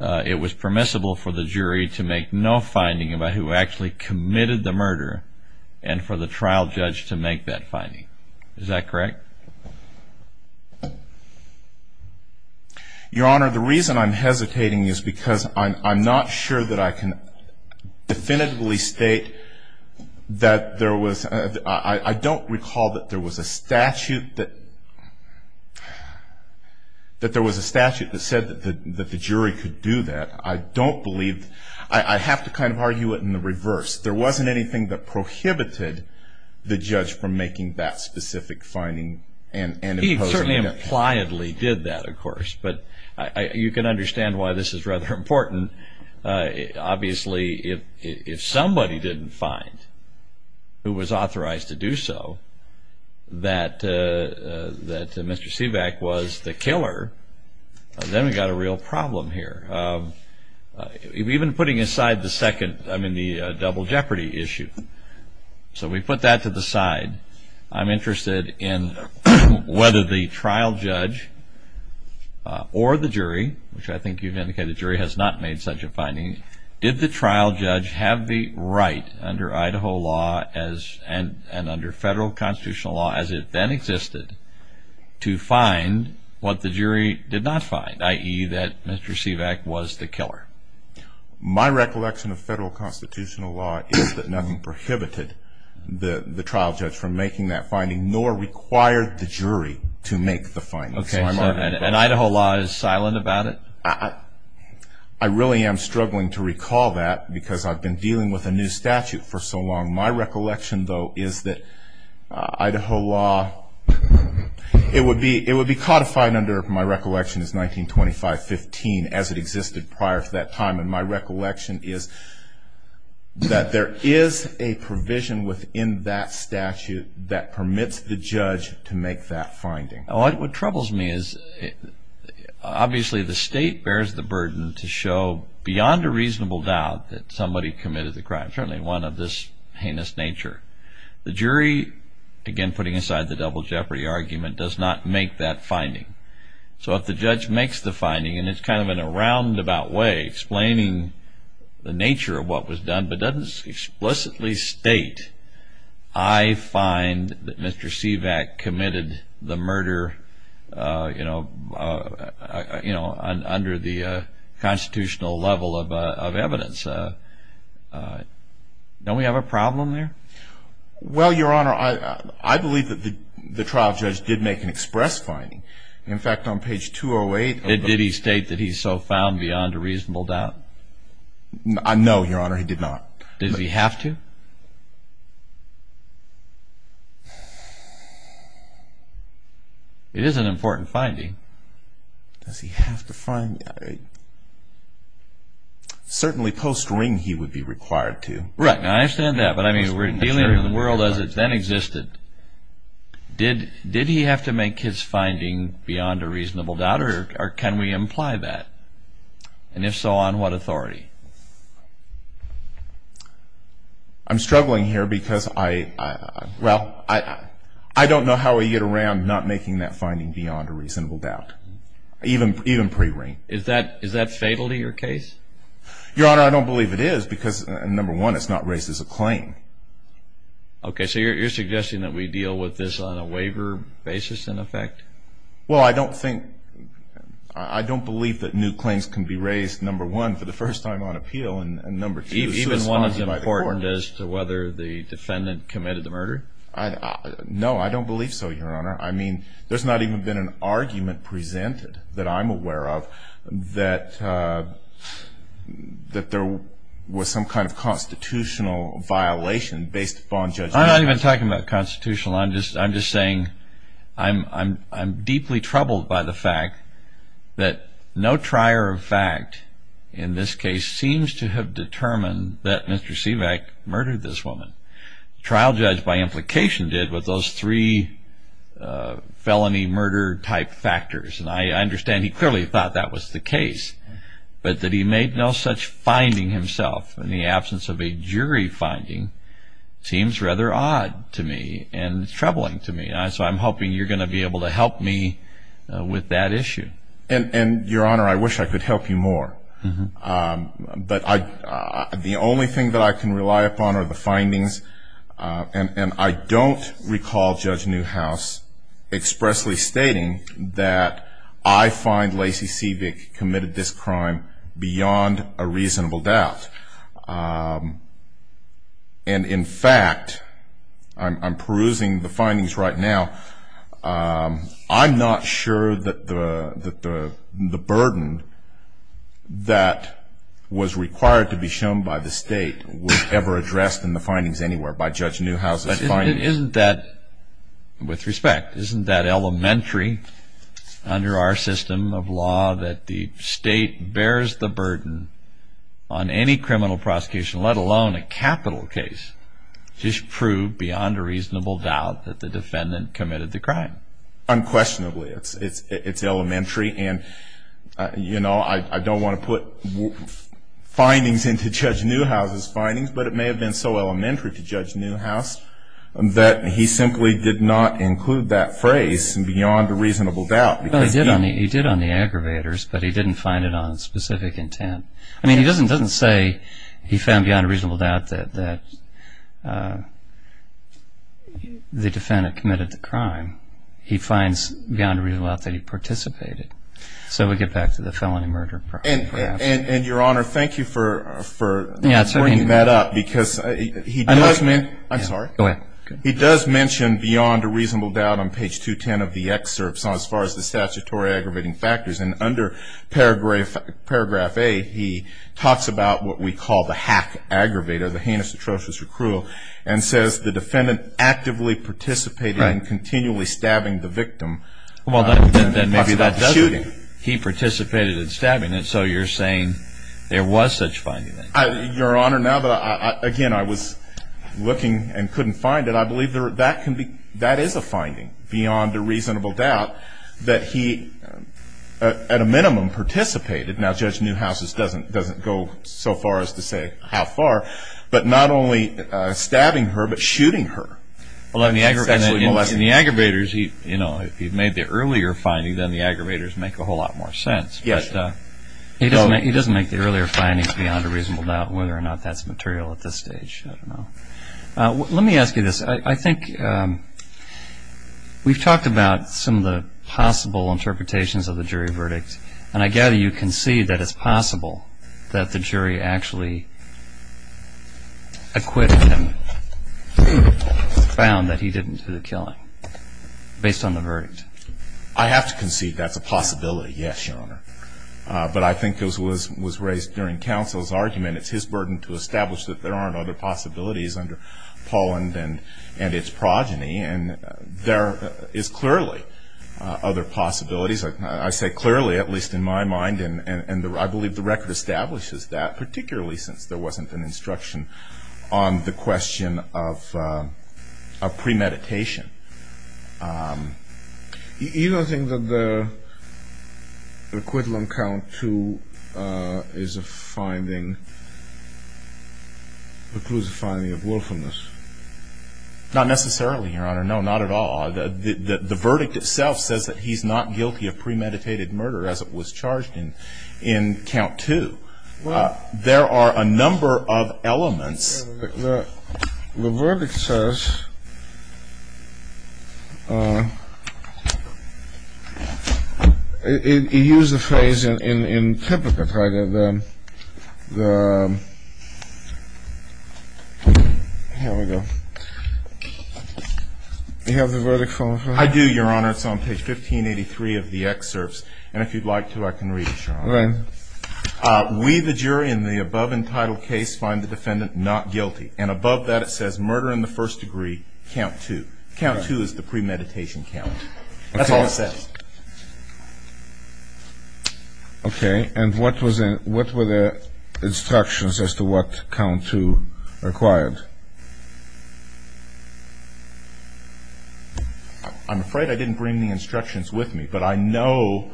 it was permissible for the jury to make no finding about who actually committed the murder and for the trial judge to make that finding. Is that correct? Your Honor, the reason I'm hesitating is because I'm not sure that I can definitively state that there was I don't recall that there was a statute that said that the jury could do that. I don't believe, I have to kind of argue it in the reverse. There wasn't anything that prohibited the judge from making that specific finding. He certainly impliedly did that, of course. But you can understand why this is rather important. Obviously, if somebody didn't find who was authorized to do so, that Mr. Sivak was the killer, then we've got a real problem here. Even putting aside the second, I mean the double jeopardy issue. So we put that to the side. I'm interested in whether the trial judge or the jury, which I think you've indicated the jury has not made such a finding, did the trial judge have the right under Idaho law and under federal constitutional law as it then existed to find what the jury did not find, i.e. that Mr. Sivak was the killer? My recollection of federal constitutional law is that nothing prohibited the trial judge from making that finding nor required the jury to make the finding. And Idaho law is silent about it? I really am struggling to recall that because I've been dealing with a new statute for so long. My recollection, though, is that Idaho law, it would be codified under my recollection as 1925-15 as it existed prior to that time, and my recollection is that there is a provision within that statute that permits the judge to make that finding. What troubles me is obviously the state bears the burden to show beyond a reasonable doubt that somebody committed the crime, certainly one of this heinous nature. The jury, again putting aside the double jeopardy argument, does not make that finding. So if the judge makes the finding, and it's kind of in a roundabout way explaining the nature of what was done but doesn't explicitly state, I find that Mr. Sivak committed the murder under the constitutional level of evidence, don't we have a problem there? Well, Your Honor, I believe that the trial judge did make an express finding. In fact, on page 208... Did he state that he so found beyond a reasonable doubt? No, Your Honor, he did not. Did he have to? It is an important finding. Does he have to find... Certainly post ring he would be required to. Right, I understand that. But I mean, we're dealing with a world as it then existed. Did he have to make his finding beyond a reasonable doubt or can we imply that? And if so, on what authority? I'm struggling here because I... Well, I don't know how we get around not making that finding beyond a reasonable doubt, even pre ring. Is that fatal to your case? Your Honor, I don't believe it is because, number one, it's not raised as a claim. Okay, so you're suggesting that we deal with this on a waiver basis in effect? Well, I don't think... I don't believe that new claims can be raised, number one, for the first time on appeal and number two... Even one that's important as to whether the defendant committed the murder? No, I don't believe so, Your Honor. I mean, there's not even been an argument presented that I'm aware of that there was some kind of constitutional violation based upon Judge... I'm not even talking about constitutional. I'm just saying I'm deeply troubled by the fact that no trier of fact in this case seems to have determined that Mr. Sivak murdered this woman. The trial judge, by implication, did with those three felony murder type factors. And I understand he clearly thought that was the case. But that he made no such finding himself in the absence of a jury finding seems rather odd to me and troubling to me. So I'm hoping you're going to be able to help me with that issue. And, Your Honor, I wish I could help you more. But the only thing that I can rely upon are the findings. And I don't recall Judge Newhouse expressly stating that I find Lacey Sivak committed this crime beyond a reasonable doubt. And, in fact, I'm perusing the findings right now. I'm not sure that the burden that was required to be shown by the state was ever addressed in the findings anywhere by Judge Newhouse's findings. Isn't that, with respect, isn't that elementary under our system of law that the state bears the burden on any criminal prosecution, let alone a capital case, to prove beyond a reasonable doubt that the defendant committed the crime? Unquestionably. It's elementary. And, you know, I don't want to put findings into Judge Newhouse's findings, but it may have been so elementary to Judge Newhouse that he simply did not include that phrase, beyond a reasonable doubt. He did on the aggravators, but he didn't find it on specific intent. I mean, he doesn't say he found beyond a reasonable doubt that the defendant committed the crime. He finds beyond a reasonable doubt that he participated. So we get back to the felony murder. And, Your Honor, thank you for bringing that up because he does mention beyond a reasonable doubt on page 210 of the excerpts as far as the statutory aggravating factors. And under paragraph A, he talks about what we call the hack aggravator, the heinous atrocious accrual, and says the defendant actively participated in continually stabbing the victim. Well, then maybe that doesn't mean he participated in stabbing. And so you're saying there was such a finding. Your Honor, now, again, I was looking and couldn't find it. I believe that is a finding beyond a reasonable doubt that he, at a minimum, participated. Now, Judge Newhouse doesn't go so far as to say how far, but not only stabbing her, but shooting her. Well, in the aggravators, you know, if he made the earlier finding, then the aggravators make a whole lot more sense. Yes. But he doesn't make the earlier findings beyond a reasonable doubt whether or not that's material at this stage. I don't know. Let me ask you this. I think we've talked about some of the possible interpretations of the jury verdict. And I gather you concede that it's possible that the jury actually acquitted him and found that he didn't do the killing based on the verdict. I have to concede that's a possibility, yes, Your Honor. But I think it was raised during counsel's argument. It's his burden to establish that there aren't other possibilities under Poland and its progeny. And there is clearly other possibilities. I say clearly, at least in my mind. And I believe the record establishes that, particularly since there wasn't an instruction on the question of premeditation. You don't think that the equivalent count to his finding includes a finding of wilfulness? Not necessarily, Your Honor. No, not at all. The verdict itself says that he's not guilty of premeditated murder as it was charged in count two. There are a number of elements. The verdict says. He used the phrase in typical. Here we go. Do you have the verdict? I do, Your Honor. It's on page 1583 of the excerpts. And if you'd like to, I can read it. We, the jury in the above entitled case, find the defendant not guilty. And above that it says murder in the first degree, count two. Count two is the premeditation count. That's all it says. Okay. And what were the instructions as to what count two required? I'm afraid I didn't bring the instructions with me, but I know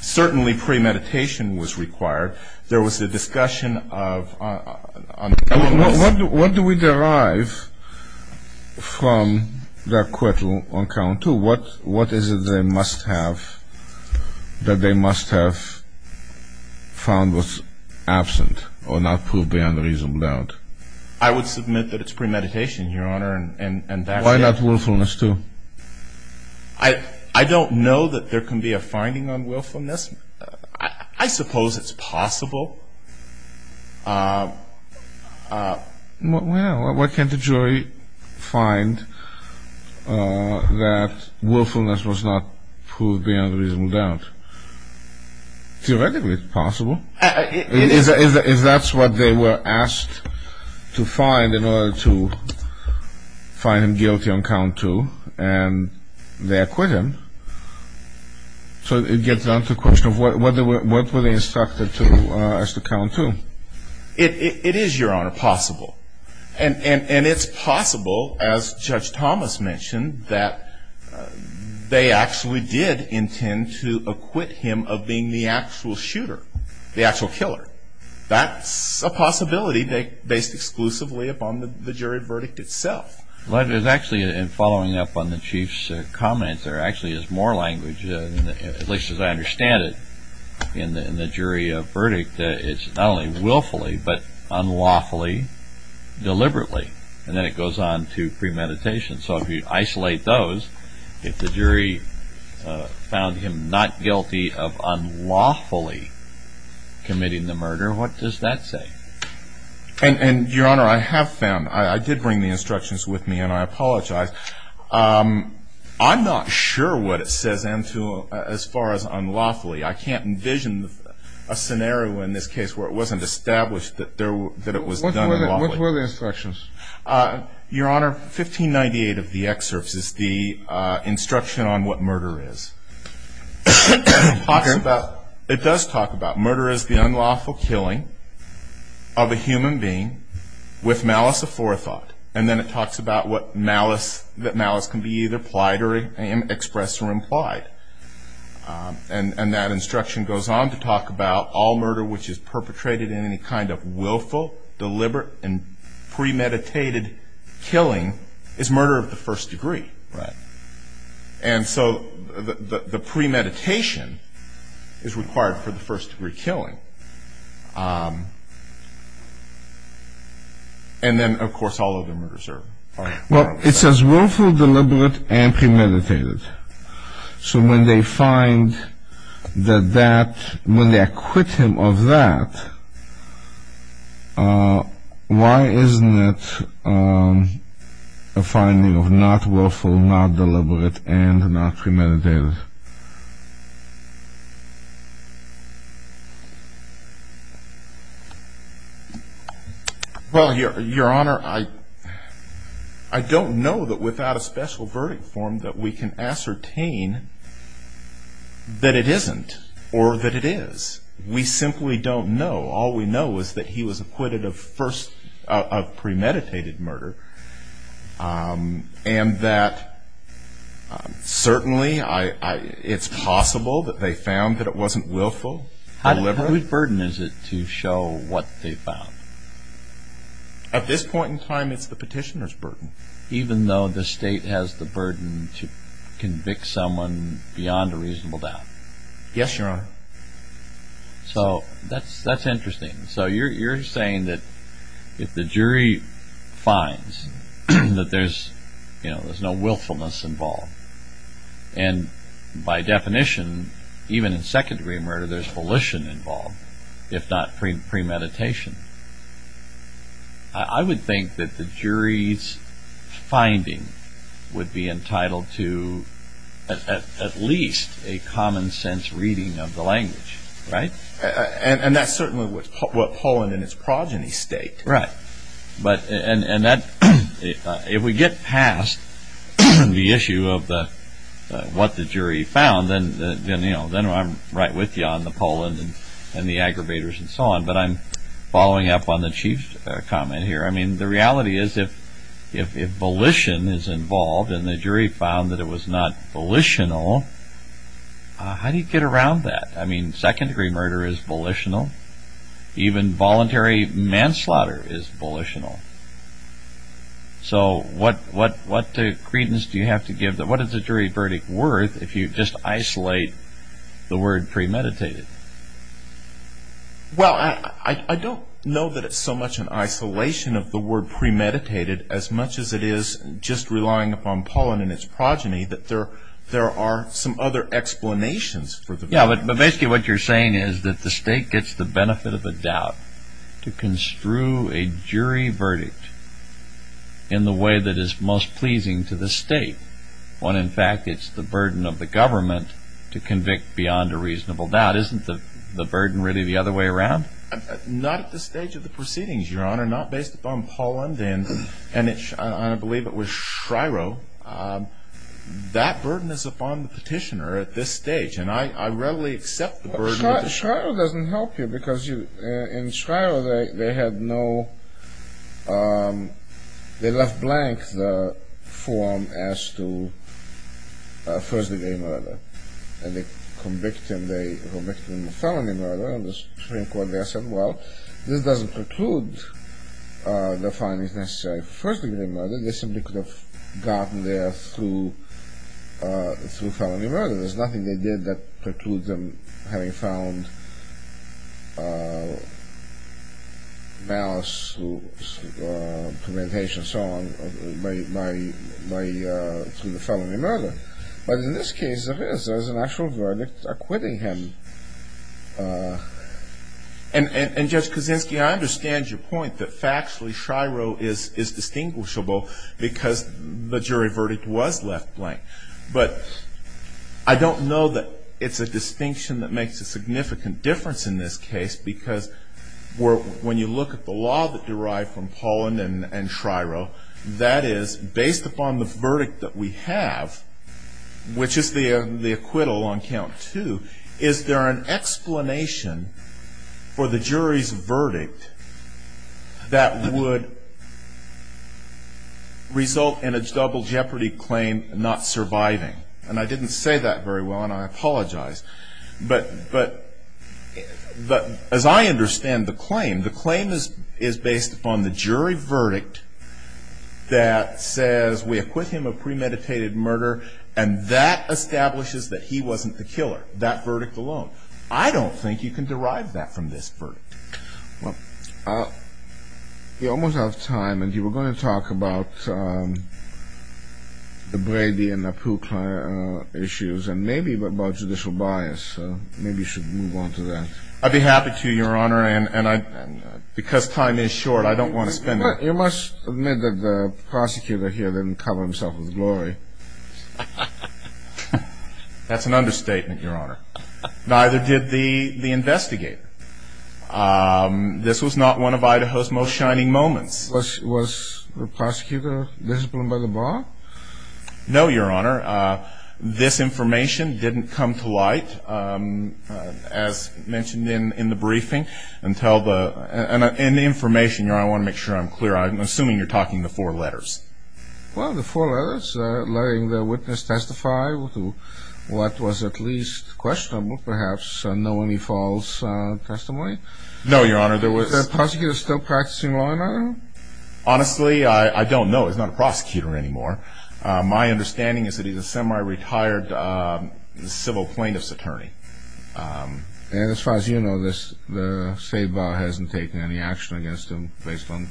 certainly premeditation was required. There was a discussion of. What do we derive from that quote on count two? What is it that they must have found was absent or not proved beyond a reasonable doubt? I would submit that it's premeditation, Your Honor. Why not willfulness too? I don't know that there can be a finding on willfulness. I suppose it's possible. Well, why can't the jury find that willfulness was not proved beyond a reasonable doubt? Theoretically it's possible. If that's what they were asked to find in order to find him guilty on count two and their acquittal. So it gets down to the question of what were they instructed to ask the count to? It is, Your Honor, possible. And it's possible, as Judge Thomas mentioned, that they actually did intend to acquit him of being the actual shooter, the actual killer. That's a possibility based exclusively upon the jury verdict itself. Following up on the Chief's comments, there actually is more language, at least as I understand it, in the jury verdict. It's not only willfully but unlawfully, deliberately. And then it goes on to premeditation. So if you isolate those, if the jury found him not guilty of unlawfully committing the murder, what does that say? And, Your Honor, I have found, I did bring the instructions with me and I apologize. I'm not sure what it says as far as unlawfully. I can't envision a scenario in this case where it wasn't established that it was done unlawfully. What were the instructions? Your Honor, 1598 of the excerpts is the instruction on what murder is. It does talk about murder as the unlawful killing of a human being with malice of forethought. And then it talks about what malice, that malice can be either plied or expressed or implied. And that instruction goes on to talk about all murder which is perpetrated in any kind of willful, deliberate and premeditated killing is murder of the first degree. Right. And so the premeditation is required for the first degree killing. And then, of course, all other murders are. Well, it says willful, deliberate and premeditated. So when they find that that, when they acquit him of that, why isn't it a finding of not willful, not deliberate and not premeditated? Well, Your Honor, I don't know that without a special verdict form that we can ascertain that it isn't or that it is. We simply don't know. All we know is that he was acquitted of first, of premeditated murder. And that certainly it's possible that they found that it wasn't willful, deliberate. How big a burden is it to show what they found? At this point in time, it's the petitioner's burden. Even though the state has the burden to convict someone beyond a reasonable doubt. Yes, Your Honor. So that's interesting. So you're saying that if the jury finds that there's no willfulness involved. And by definition, even in second degree murder, there's volition involved, if not premeditation. I would think that the jury's finding would be entitled to at least a common sense reading of the language, right? And that's certainly what Poland and its progeny state. Right. And if we get past the issue of what the jury found, then I'm right with you on the Poland and the aggravators and so on. But I'm following up on the Chief's comment here. I mean, the reality is if volition is involved and the jury found that it was not volitional, how do you get around that? I mean, second degree murder is volitional. Even voluntary manslaughter is volitional. So what credence do you have to give? What is the jury verdict worth if you just isolate the word premeditated? Well, I don't know that it's so much an isolation of the word premeditated as much as it is just relying upon Poland and its progeny that there are some other explanations. Yeah, but basically what you're saying is that the state gets the benefit of the doubt to construe a jury verdict in the way that is most pleasing to the state. When, in fact, it's the burden of the government to convict beyond a reasonable doubt. Isn't the burden really the other way around? Not at this stage of the proceedings, Your Honor. Not based upon Poland and I believe it was Shryo. That burden is upon the petitioner at this stage, and I readily accept the burden. Shryo doesn't help you because in Shryo they left blank the form as to first degree murder. And they convicted him of felony murder and the Supreme Court there said, well, this doesn't preclude the findings necessary for first degree murder. They simply could have gotten there through felony murder. There's nothing they did that precludes them having found malice, premeditation, so on, from the felony murder. But in this case there is. There is an actual verdict acquitting him. And just to convince you, I understand your point that factually Shryo is distinguishable because the jury verdict was left blank. But I don't know that it's a distinction that makes a significant difference in this case because when you look at the law that derived from Poland and Shryo, that is based upon the verdict that we have, which is the acquittal on count two, is there an explanation for the jury's verdict that would result in a double jeopardy claim not surviving? And I didn't say that very well and I apologize. But as I understand the claim, the claim is based upon the jury verdict that says we acquit him of premeditated murder and that establishes that he wasn't the killer, that verdict alone. I don't think you can derive that from this verdict. Well, we're almost out of time and we're going to talk about the Brady and the Pukla issues and maybe about judicial bias. Maybe we should move on to that. I'd be happy to, Your Honor, and because time is short, I don't want to spend it. You must admit that the prosecutor here didn't cover himself in glory. That's an understatement, Your Honor. Neither did the investigator. This was not one of Idaho's most shining moments. Was the prosecutor disciplined by the bar? No, Your Honor. This information didn't come to light, as mentioned in the briefing. And the information, Your Honor, I want to make sure I'm clear. I'm assuming you're talking the four letters. Well, the four letters, letting the witness testify to what was at least questionable, perhaps no only false testimony. No, Your Honor. Was the prosecutor still practicing law and order? Honestly, I don't know. He's not a prosecutor anymore. My understanding is that he's a semi-retired civil plaintiff's attorney. And as far as you know, the state bar hasn't taken any action against him based on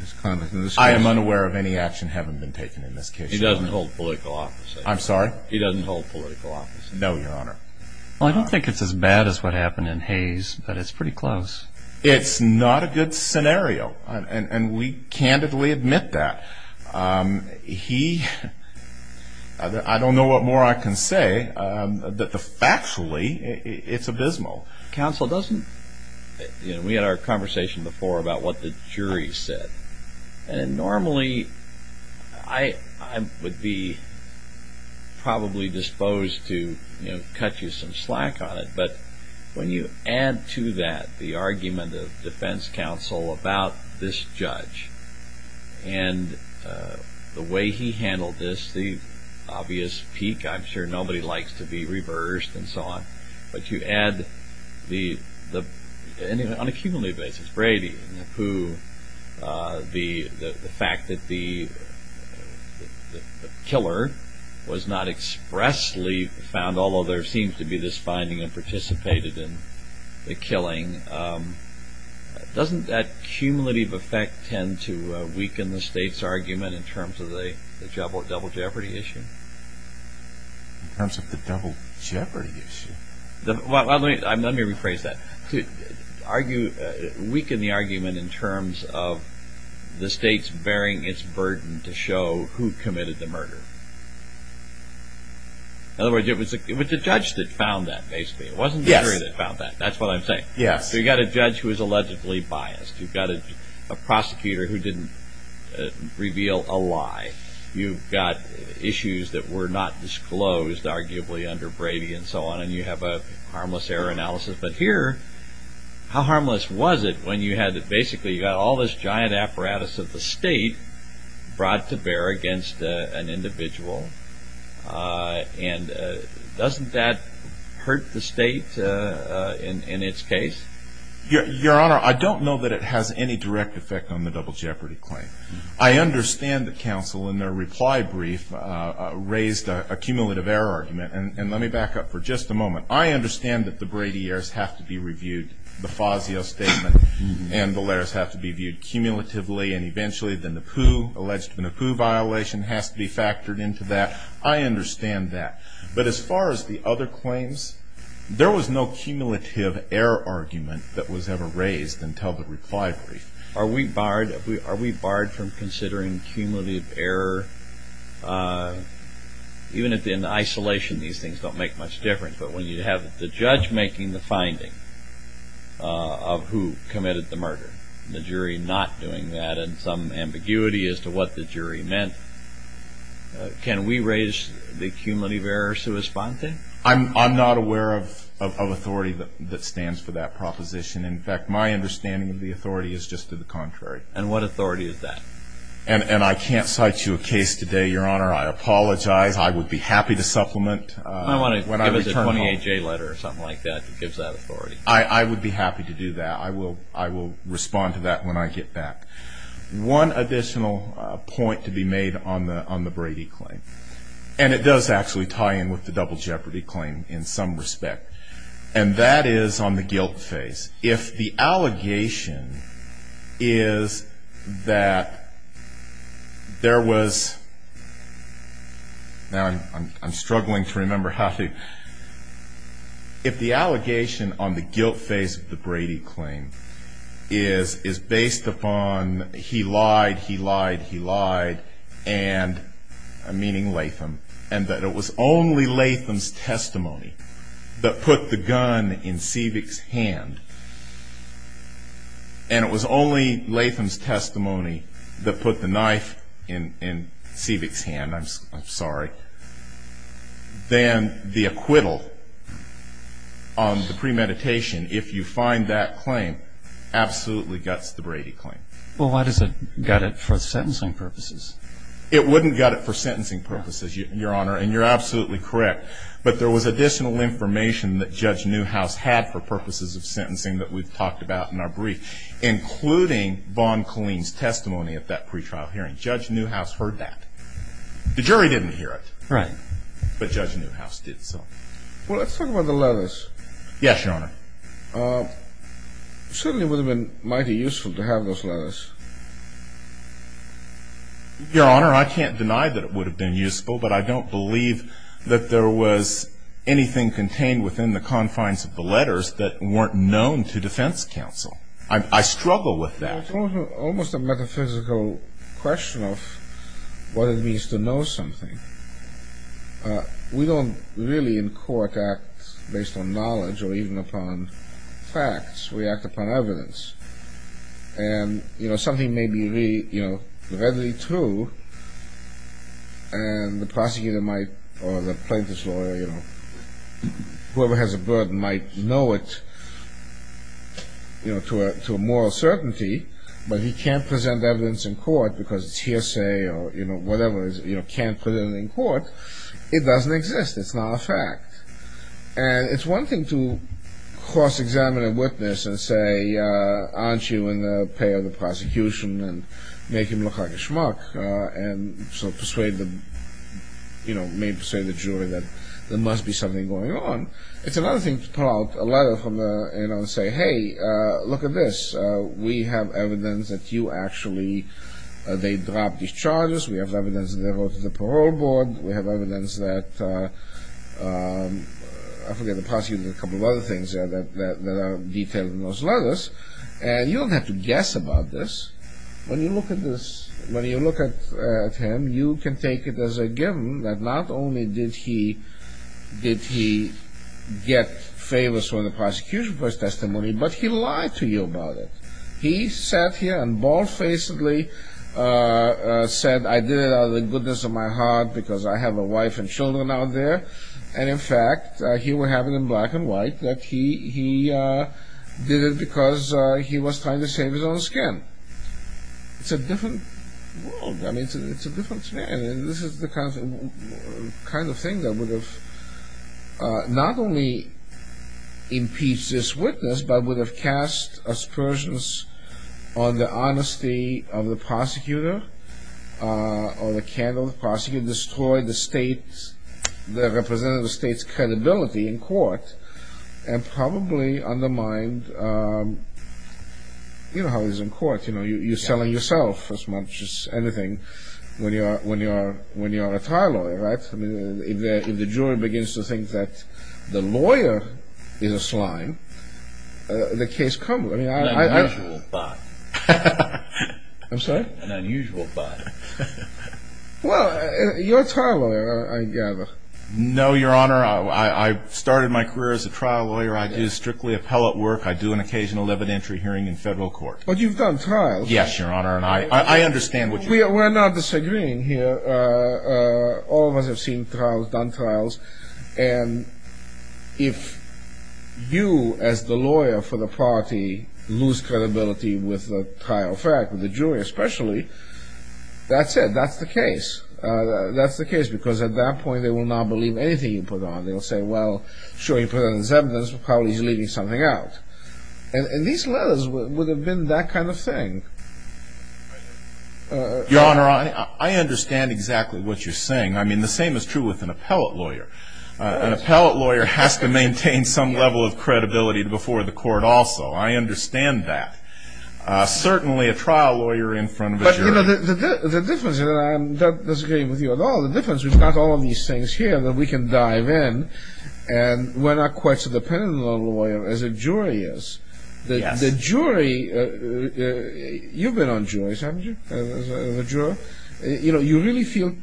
his conduct in this case. I am unaware of any action having been taken in this case. He doesn't hold political office. I'm sorry? He doesn't hold political office. No, Your Honor. Well, I don't think it's as bad as what happened in Hayes, but it's pretty close. It's not a good scenario, and we candidly admit that. He... I don't know what more I can say. Factually, it's abysmal. Counsel doesn't... We had our conversation before about what the jury said. And normally, I would be probably disposed to cut you some slack on it. But when you add to that the argument of defense counsel about this judge, and the way he handled this, the obvious peak. I'm sure nobody likes to be reversed and so on. But you add the... And on a cumulative basis, Brady, who... The fact that the killer was not expressly found, although there seems to be this finding of participating in the killing. Doesn't that cumulative effect tend to weaken the state's argument in terms of the double jeopardy issue? In terms of the double jeopardy issue? Let me rephrase that. Weaken the argument in terms of the state's bearing its burden to show who committed the murder. In other words, it was the judge that found that, basically. It wasn't the jury that found that. That's what I'm saying. You've got a judge who is allegedly biased. You've got a prosecutor who didn't reveal a lie. You've got issues that were not disclosed, arguably, under Brady and so on. And you have a harmless error analysis. But here, how harmless was it when you had... Basically, you've got all this giant apparatus that the state brought to bear against an individual. And doesn't that hurt the state in its case? Your Honor, I don't know that it has any direct effect on the double jeopardy claim. I understand that counsel, in their reply brief, raised a cumulative error argument. And let me back up for just a moment. I understand that the Brady errors have to be reviewed, the Fazio statement. And the layers have to be viewed cumulatively. And eventually, the Napoo, alleged Napoo violation has to be factored into that. I understand that. But as far as the other claims, there was no cumulative error argument that was ever raised until the reply brief. Are we barred from considering cumulative error? Even in isolation, these things don't make much difference. But when you have the judge making the finding of who committed the murder, the jury not doing that, and some ambiguity as to what the jury meant, can we raise the cumulative error sui sponte? I'm not aware of authority that stands for that proposition. In fact, my understanding of the authority is just to the contrary. And what authority is that? And I can't cite you a case today, Your Honor. I apologize. I would be happy to supplement. I want to give it a 28-day letter or something like that, if it gives that authority. I would be happy to do that. I will respond to that when I get back. One additional point to be made on the Brady claim. And it does actually tie in with the double jeopardy claim in some respect. And that is on the guilt phase. If the allegation is that there was, now I'm struggling to remember how to, if the allegation on the guilt phase of the Brady claim is based upon he lied, he lied, he lied, meaning Latham, and that it was only Latham's testimony that put the gun in Seevick's hand, and it was only Latham's testimony that put the knife in Seevick's hand, I'm sorry, then the acquittal on the premeditation, if you find that claim, absolutely guts the Brady claim. Well, why does it gut it for sentencing purposes? It wouldn't gut it for sentencing purposes, Your Honor, and you're absolutely correct. But there was additional information that Judge Newhouse had for purposes of sentencing that we've talked about in our brief, including Vaughn Colleen's testimony at that pretrial hearing. Judge Newhouse heard that. The jury didn't hear it. Right. But Judge Newhouse did. Well, let's talk about the letters. Yes, Your Honor. It certainly would have been mighty useful to have those letters. Your Honor, I can't deny that it would have been useful, but I don't believe that there was anything contained within the confines of the letters that weren't known to defense counsel. I struggle with that. It's almost a metaphysical question of what it means to know something. We don't really, in court, act based on knowledge or even upon facts. We act upon evidence. And, you know, something may be, you know, readily true, and the prosecutor might or the plaintiff's lawyer or whoever has a burden might know it, you know, to a moral certainty, but he can't present evidence in court because it's hearsay or, you know, whatever, you know, can't put it in court. It doesn't exist. It's not a fact. And it's one thing to cross-examine a witness and say, aren't you in the play of the prosecution, and make him look like a schmuck and so persuade the, you know, maybe persuade the jury that there must be something going on. It's another thing to pull out a letter from the, you know, and say, hey, look at this. We have evidence that you actually, they dropped these charges. We have evidence that there was a parole board. We have evidence that, I forget, the prosecutor did a couple of other things that are detailed in those letters. And you don't have to guess about this. When you look at this, when you look at him, you can take it as a given that not only did he get favors from the prosecution for his testimony, but he lied to you about it. He sat here and bald-facedly said, I did it out of the goodness of my heart because I have a wife and children out there. And, in fact, here we have it in black and white that he did it because he was trying to save his own skin. It's a different world. I mean, it's a different thing. This is the kind of thing that would have not only impeached this witness, but would have cast aspersions on the honesty of the prosecutor, on the candor of the prosecutor, destroyed the state, the representative of the state's credibility in court, and probably undermined, you know, how it is in court. But, you know, you're selling yourself as much as anything when you're a trial lawyer, right? I mean, if the jury begins to think that the lawyer is a slime, the case comes. It's an unusual thought. I'm sorry? An unusual thought. Well, you're a trial lawyer, I gather. No, Your Honor. I started my career as a trial lawyer. I do strictly appellate work. I do an occasional evidentiary hearing in federal court. But you've done trials. Yes, Your Honor, and I understand what you mean. We're not disagreeing here. All of us have seen trials, done trials, and if you, as the lawyer for the party, lose credibility with the trial fact, with the jury especially, that's it. That's the case. That's the case, because at that point, they will not believe anything you put on. They'll say, well, showing presence of evidence, probably you're leaving something out. And these letters would have been that kind of thing. Your Honor, I understand exactly what you're saying. I mean, the same is true with an appellate lawyer. An appellate lawyer has to maintain some level of credibility before the court also. I understand that. Certainly a trial lawyer in front of a jury. The difference, and I'm not disagreeing with you at all, the difference is not all of these things here that we can dive in, and we're not quite so dependent on a lawyer as a jury is. The jury, you've been on juries, haven't you, as a juror? You know, you really feel,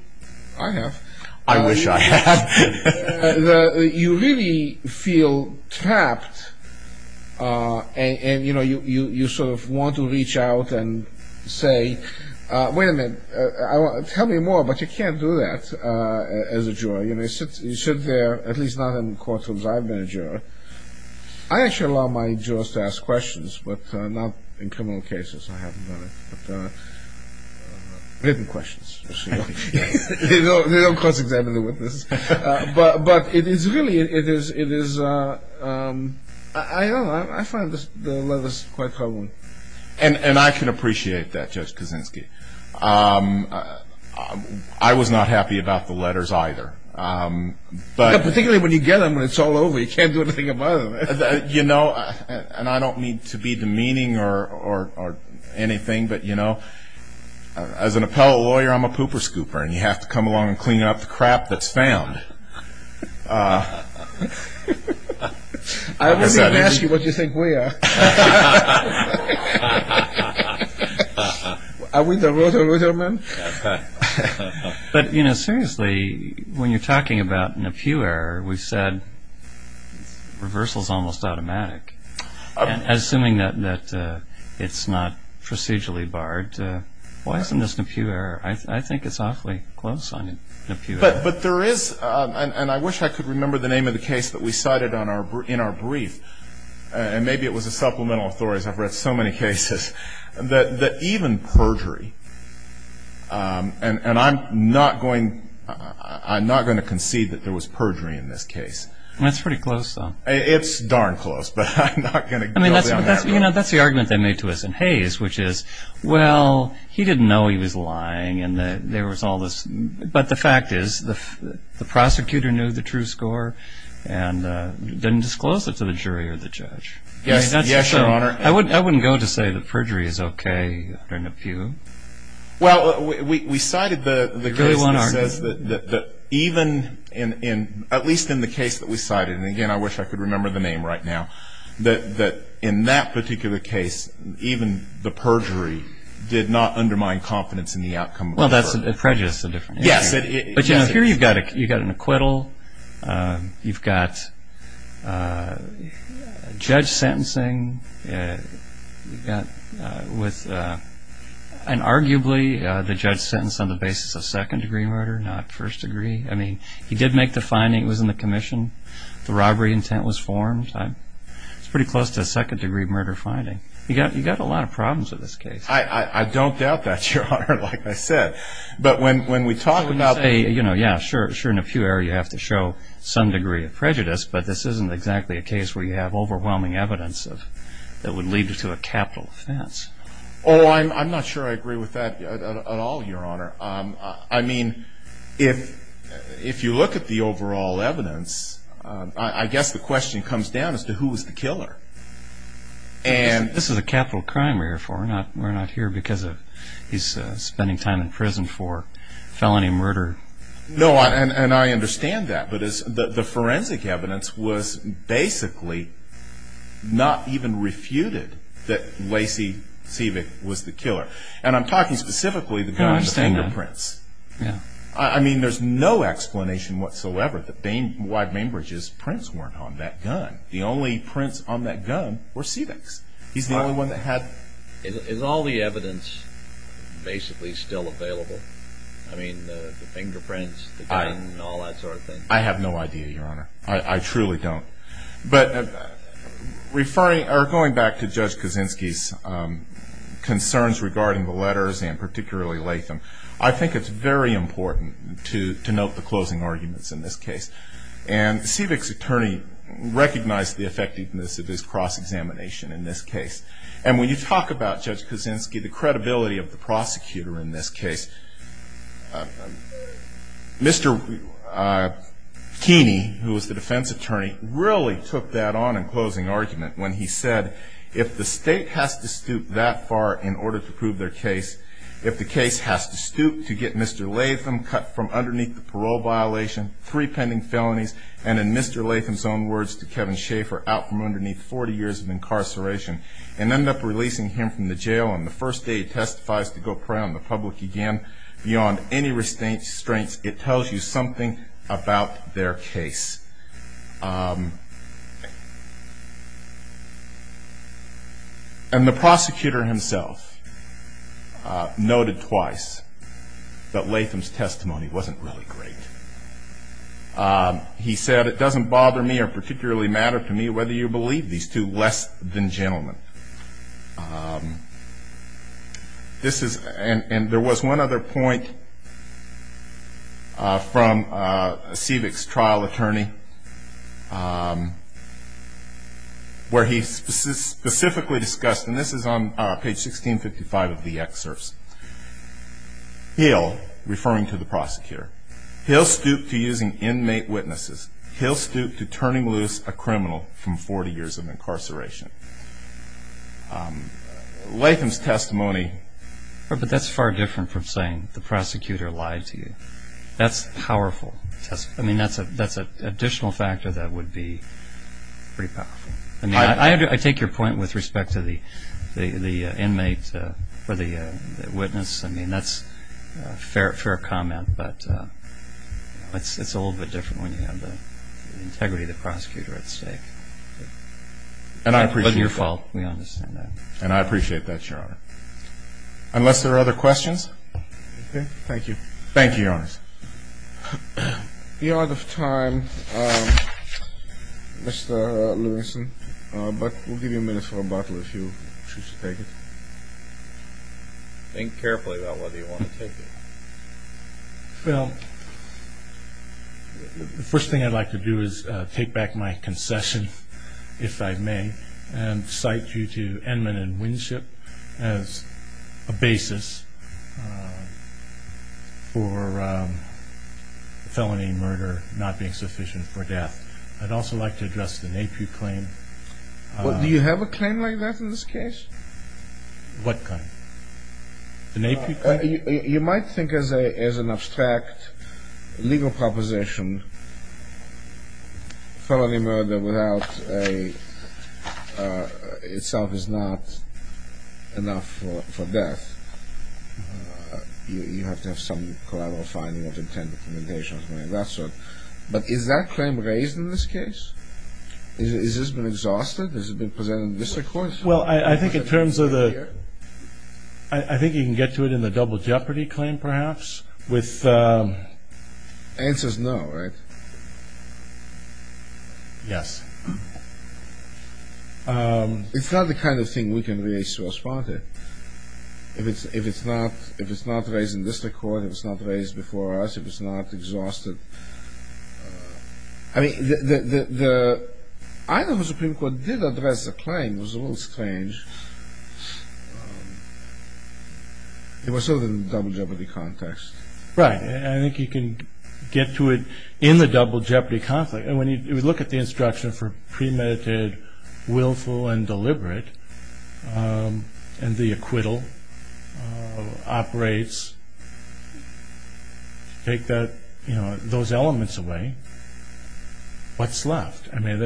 I have. I wish I had. You really feel trapped, and, you know, you sort of want to reach out and say, wait a minute, tell me more, but you can't do that as a jury. You know, you sit there, at least not in courtrooms I've been in as a juror. I actually allow my jurors to ask questions, but not in criminal cases. I haven't done it. Hidden questions. You know, of course, if they have anything to do with this. But it is really, it is, I don't know, I find the letters quite troubling. And I can appreciate that, Judge Kuczynski. I was not happy about the letters either. Particularly when you get them and it's all over, you can't do anything about it. You know, and I don't mean to be demeaning or anything, but, you know, as an appellate lawyer, I'm a pooper scooper, and you have to come along and clean up the crap that's found. I wouldn't even ask you what you think we are. But, you know, seriously, when you're talking about an appeal error, we've said reversal is almost automatic. Assuming that it's not procedurally barred, why isn't this an appeal error? I think it's awfully close on an appeal error. But there is, and I wish I could remember the name of the case that we cited in our brief, and maybe it was a similar case, I've read so many cases that even perjury, and I'm not going to concede that there was perjury in this case. That's pretty close, though. It's darn close, but I'm not going to go there. You know, that's the argument they made to us in Hays, which is, well, he didn't know he was lying and there was all this, but the fact is the prosecutor knew the true score and didn't disclose it to the jury or the judge. Yes, Your Honor. I wouldn't go to say that perjury is okay in a few. Well, we cited the great one argument that even in, at least in the case that we cited, and again, I wish I could remember the name right now, that in that particular case, even the perjury did not undermine confidence in the outcome. Well, that prejudice is a different issue. Yeah. Here you've got an acquittal. You've got judge sentencing. And arguably the judge sentenced on the basis of second-degree murder, not first degree. I mean, he did make the finding. It was in the commission. The robbery intent was formed. It's pretty close to a second-degree murder finding. You've got a lot of problems in this case. I don't doubt that, Your Honor, like I said. But when we talk about the, you know, yeah, sure in a few areas you have to show some degree of prejudice, but this isn't exactly a case where you have overwhelming evidence that would lead you to a capital offense. Oh, I'm not sure I agree with that at all, Your Honor. I mean, if you look at the overall evidence, I guess the question comes down as to who was the killer. This is a capital crime we're here for. We're not here because he's spending time in prison for felony murder. No, and I understand that. But the forensic evidence was basically not even refuted that Lacey Sievek was the killer. And I'm talking specifically about the fingerprints. Yeah. I mean, there's no explanation whatsoever that Wayne Bainbridge's prints weren't on that gun. The only prints on that gun were Sievek's. He's the only one that had them. Is all the evidence basically still available? I mean, the fingerprints, the gun, and all that sort of thing? I have no idea, Your Honor. I truly don't. But referring, or going back to Judge Kaczynski's concerns regarding the letters and particularly Lacey, I think it's very important to note the closing arguments in this case. And Sievek's attorney recognized the effectiveness of his cross-examination in this case. And when you talk about, Judge Kaczynski, the credibility of the prosecutor in this case, Mr. Keeney, who was the defense attorney, really took that on in closing argument when he said, if the state has to stoop that far in order to prove their case, if the case has to stoop to get Mr. Latham cut from underneath the parole violation, three pending felonies, and in Mr. Latham's own words to Kevin Schaefer, out from underneath 40 years of incarceration, and end up releasing him from the jail on the first day he testifies to go prey on the public again, beyond any restraint, it tells you something about their case. And the prosecutor himself noted twice that Latham's testimony wasn't really great. He said, it doesn't bother me or particularly matter to me whether you believe these two less than gentlemen. This is, and there was one other point from Sevek's trial attorney where he specifically discussed, and this is on page 1655 of the excerpts, he'll, referring to the prosecutor, he'll stoop to using inmate witnesses, he'll stoop to turning loose a criminal from 40 years of incarceration. Latham's testimony. But that's far different from saying the prosecutor lied to you. That's powerful. I mean, that's an additional factor that would be pretty powerful. I mean, I take your point with respect to the inmate or the witness. I mean, that's a fair comment, but it's a little bit different when you have the integrity of the prosecutor at stake. It's not your fault, we understand that. And I appreciate that, Your Honor. Unless there are other questions? Okay, thank you. Thank you, Your Honor. We are out of time, Mr. Lewinson, but we'll give you a minute for rebuttal if you choose to take it. Think carefully about whether you want to take it. Well, the first thing I'd like to do is take back my concession, if I may, and cite you to Edmond and Winship as a basis for felony murder not being sufficient for death. I'd also like to address the Napier claim. Do you have a claim like that in this case? What claim? The Napier claim? You might think of it as an abstract legal proposition. Felony murder without a...itself is not enough for death. You have to have some collateral finding of intent, documentation, and that sort. But is that claim raised in this case? Has this been exhausted? Well, I think in terms of the...I think you can get to it in the Double Jeopardy claim, perhaps, with... The answer is no, right? Yes. It's not the kind of thing we can really source-spot it. If it's not raised in this court, if it's not raised before us, if it's not exhausted... I mean, the...I know the Supreme Court did address the claim. It was a little strange. It was sort of in the Double Jeopardy context. Right, and I think you can get to it in the Double Jeopardy context. And when you look at the instruction for premeditated, willful, and deliberate, and the acquittal operates to take those elements away, what's left? I mean,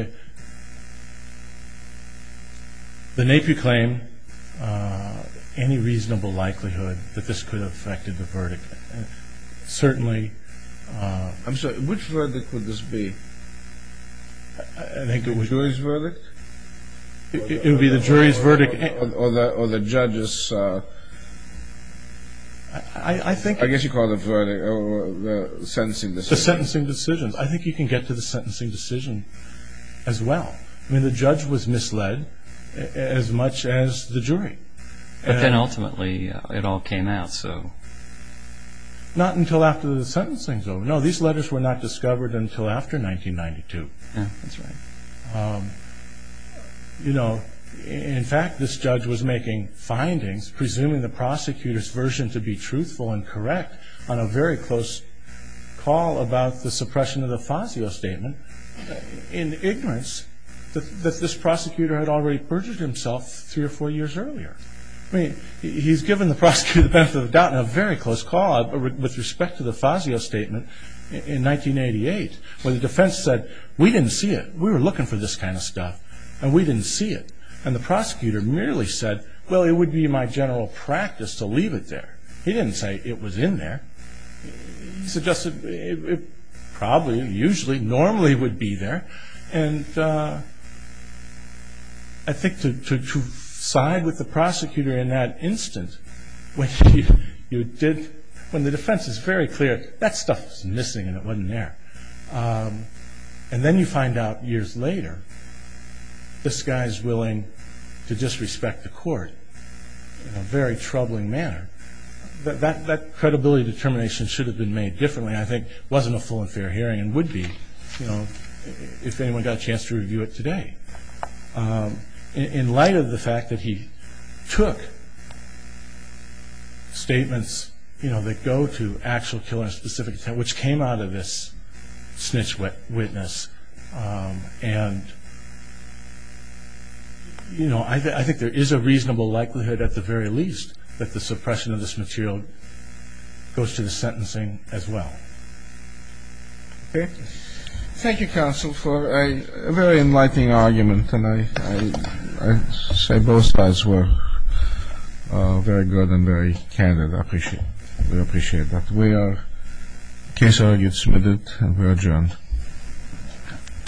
the NAPI claim, any reasonable likelihood that this could have affected the verdict. Certainly... I'm sorry, which verdict would this be? The jury's verdict? It would be the jury's verdict. Or the judge's...I guess you call it the sentencing decision. The sentencing decision. I think you can get to the sentencing decision as well. I mean, the judge was misled as much as the jury. But then ultimately it all came out, so... Not until after the sentencing, though. No, these letters were not discovered until after 1992. Yeah, that's right. You know, in fact, this judge was making findings, presuming the prosecutor's version to be truthful and correct, on a very close call about the suppression of the Fazio Statement, in ignorance that this prosecutor had already perjured himself three or four years earlier. I mean, he's given the prosecutor the benefit of the doubt in a very close call, with respect to the Fazio Statement, in 1988, when the defense said, we didn't see it. We were looking for this kind of stuff, and we didn't see it. And the prosecutor merely said, well, it would be my general practice to leave it there. He didn't say it was in there. He suggested it probably, usually, normally would be there. And I think to side with the prosecutor in that instance, when the defense is very clear, that stuff was missing, and it wasn't there. And then you find out years later, this guy is willing to disrespect the court, in a very troubling manner. That credibility determination should have been made differently, I think, wasn't a full and fair hearing, and would be, you know, if anyone got a chance to review it today. In light of the fact that he took statements, you know, that go to actual killer-specific, which came out of this snitch witness, and, you know, I think there is a reasonable likelihood, at the very least, that the suppression of this material goes to the sentencing as well. Okay. Thank you, counsel, for a very enlightening argument, and I say both sides were very good and very candid. I appreciate it. We appreciate that. We are case argued, submitted, and we are adjourned. All rise.